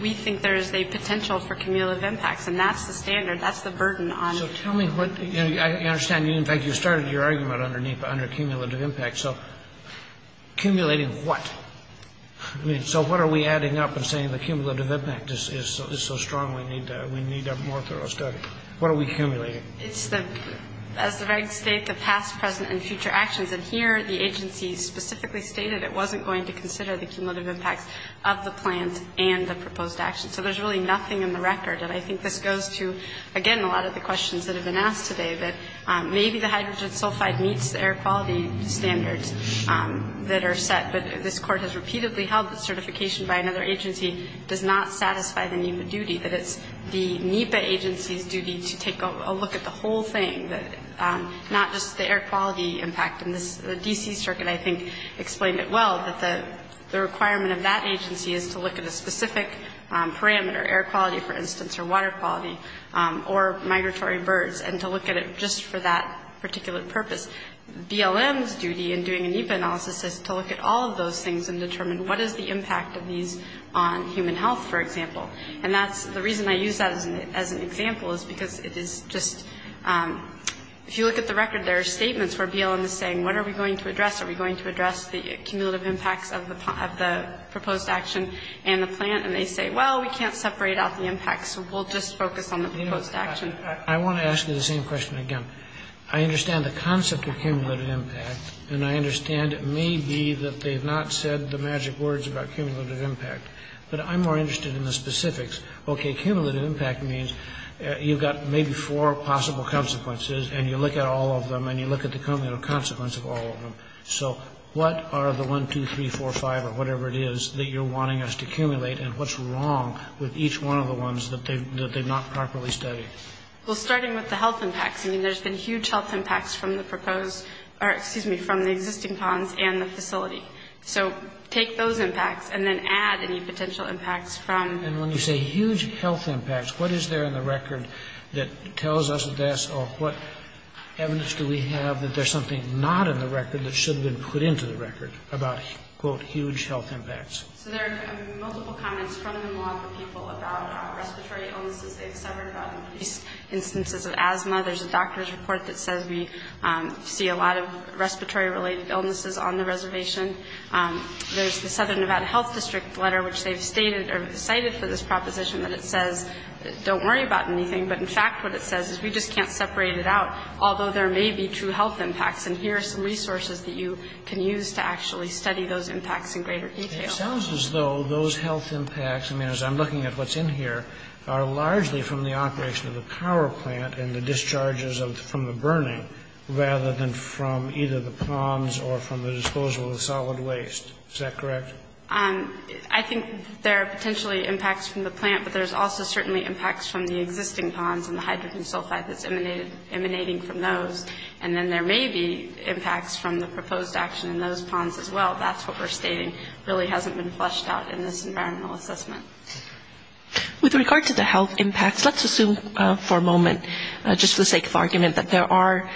we think there is a potential for cumulative impacts. And that's the standard. That's the burden on us. I understand. In fact, you started your argument under cumulative impacts. So accumulating what? I mean, so what are we adding up and saying the cumulative impact is so strong we need a more thorough study? What are we accumulating? It's the reg state, the past, present, and future actions. And here the agency specifically stated it wasn't going to consider the cumulative impact of the plan and the proposed action. So there's really nothing in the record. And I think this goes to, again, a lot of the questions that have been asked today, that maybe the hydrogen sulfide meets the air quality standards that are set. But this Court has repeatedly held that certification by another agency does not satisfy the NEPA duty, that it's the NEPA agency's duty to take a look at the whole thing, not just the air quality impact. And the D.C. Circuit, I think, explained it well, that the requirement of that agency is to look at a specific parameter, air quality, for instance, or water quality, or migratory birds, and to look at it just for that particular purpose. BLM's duty in doing NEPA analysis is to look at all of those things and determine what is the impact of these on human health, for example. And the reason I use that as an example is because it is just, if you look at the record, there are statements where BLM is saying, what are we going to address? Are we going to address the cumulative impact of the proposed action and the plan? And they say, well, we can't separate out the impact, so we'll just focus on the proposed action. I want to ask you the same question again. I understand the concept of cumulative impact, and I understand it may be that they've not said the magic words about cumulative impact. But I'm more interested in the specifics. Okay, cumulative impact means you've got maybe four possible consequences, and you look at all of them, and you look at the cumulative consequence of all of them. So what are the one, two, three, four, five, or whatever it is that you're wanting us to accumulate, and what's wrong with each one of the ones that they've not properly studied? Well, starting with the health impacts, I mean, there's been huge health impacts from the proposed, or excuse me, from the existing plans and the facility. So take those impacts and then add any potential impacts from... And when we say huge health impacts, what is there in the record that tells us this, or what evidence do we have that there's something not in the record that should have been put into the record about, quote, huge health impacts? There are multiple comments from the people about respiratory illnesses, et cetera, about these instances of asthma. There's a doctor's report that says we see a lot of respiratory-related illnesses on the reservation. There's something about a health district letter, which they've stated or cited for this proposition, that it says don't worry about anything, but in fact what it says is we just can't separate it out, although there may be true health impacts, and here are some resources that you can use to actually study those impacts in greater detail. It sounds as though those health impacts, I mean, as I'm looking at what's in here, are largely from the operation of the power plant and the discharges from the burning rather than from either the ponds or from the disposal of solid waste. Is that correct? I think there are potentially impacts from the plant, but there's also certainly impacts from the existing ponds and the hydrogen sulfide that's emanating from those, and then there may be impacts from the proposed action in those ponds as well. That's what we're stating really hasn't been fleshed out in this environmental assessment. With regard to the health impacts, let's assume for a moment, just for the sake of argument, that there are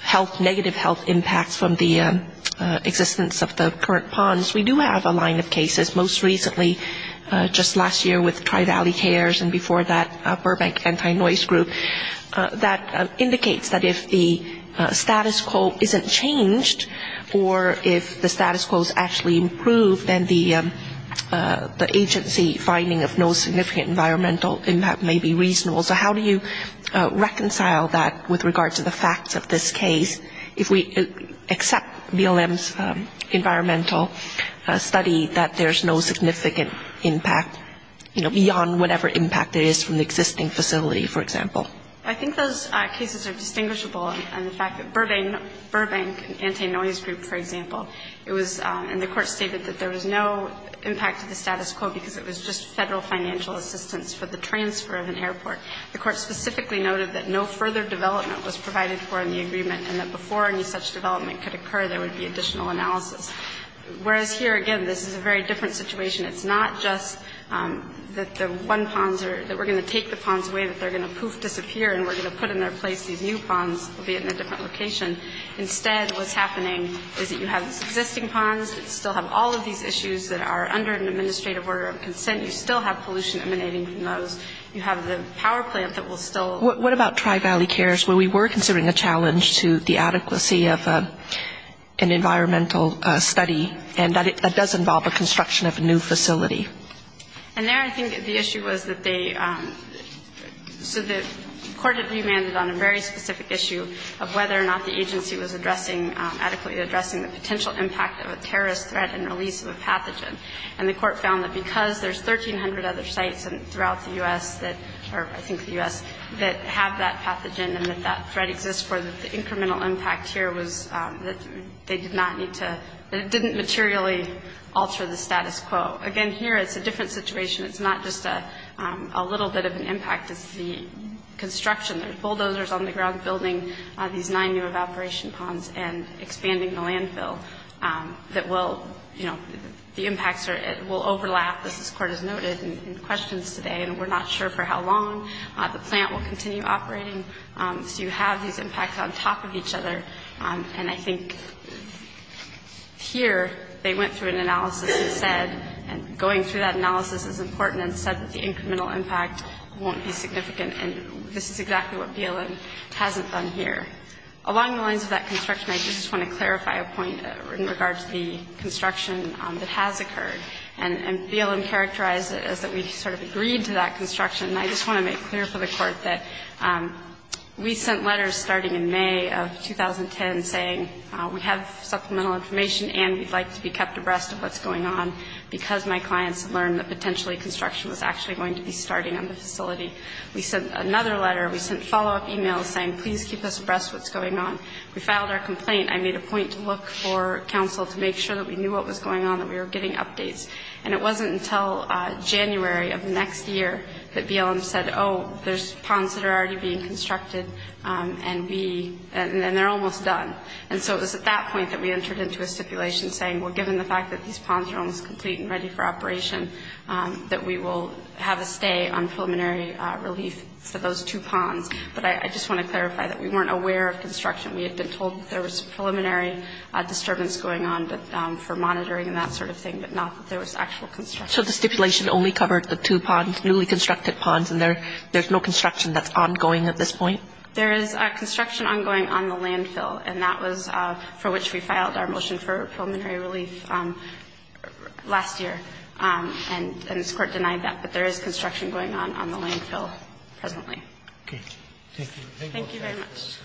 health, negative health impacts from the existence of the current ponds. We do have a line of cases, most recently just last year with Tri-Valley Cares and before that Burbank Anti-Noise Group, that indicates that if the status quo isn't changed or if the status quo is actually improved, then the agency finding of no significant environmental impact may be reasonable. So how do you reconcile that with regard to the facts of this case if we accept BLM's environmental study that there's no significant impact beyond whatever impact there is from the existing facility, for example? I think those cases are distinguishable in the fact that Burbank Anti-Noise Group, for example, and the court stated that there was no impact to the status quo because it was just federal financial assistance for the transfer of an airport. The court specifically noted that no further development was provided for in the agreement and that before any such development could occur, there would be additional analysis. Whereas here, again, this is a very different situation. It's not just that the one pond that we're going to take the ponds away, that they're going to poof, disappear and we're going to put in their place these new ponds, albeit in a different location. Instead, what's happening is that you have existing ponds that still have all of these issues that are under an administrative order of consent. You still have pollution emanating from those. You have the power plant that will still. What about Tri-Valley Cares where we were considering a challenge to the adequacy of an environmental study and that does involve the construction of a new facility? And then I think the issue was that they, so the court that you mandated on a very specific issue of whether or not the agency was addressing, adequately addressing the potential impact of a terrorist threat and the release of a pathogen. And the court found that because there's 1,300 other sites throughout the U.S. or I think the U.S. that have that pathogen and that that threat exists for this incremental impact here was that they did not need to, that it didn't materially alter the status quo. Again, here it's a different situation. It's not just a little bit of an impact. It's the construction. There's bulldozers on the ground building these nine-year evaporation ponds and expanding the landfill that will, you know, the impacts will overlap, as the court has noted in questions today, and we're not sure for how long. The plant will continue operating. You have these impacts on top of each other, and I think here they went through an analysis and said going through that analysis is important and said that the incremental impact won't be significant, and this is exactly what BLM hasn't done here. Along the lines of that construction, I just want to clarify a point in regards to the construction that has occurred, and BLM characterized it as that we sort of agreed to that construction, and I just want to make clear for the court that we sent letters starting in May of 2010 saying we have supplemental information and we'd like to be kept abreast of what's going on because my clients learned that potentially construction was actually going to be starting on the facility. We sent another letter. We sent follow-up emails saying please keep us abreast of what's going on. We filed our complaint. I made a point to look for counsel to make sure that we knew what was going on, that we were getting updates, and it wasn't until January of next year that BLM said, oh, there's ponds that are already being constructed, and they're almost done, and so it was at that point that we entered into a stipulation saying, well, given the fact that these ponds are almost complete and ready for operation, that we will have a stay on preliminary release for those two ponds, but I just want to clarify that we weren't aware of construction. We had been told that there was a preliminary disturbance going on for monitoring and that sort of thing, but not that there was actual construction. So the stipulation only covered the two ponds, newly constructed ponds, and there's no construction that's ongoing at this point? There is construction ongoing on the landfill, and that was for which we filed our motion for preliminary release last year, and this court denied that, but there is construction going on on the landfill presently. Okay. Thank you. Thank you very much.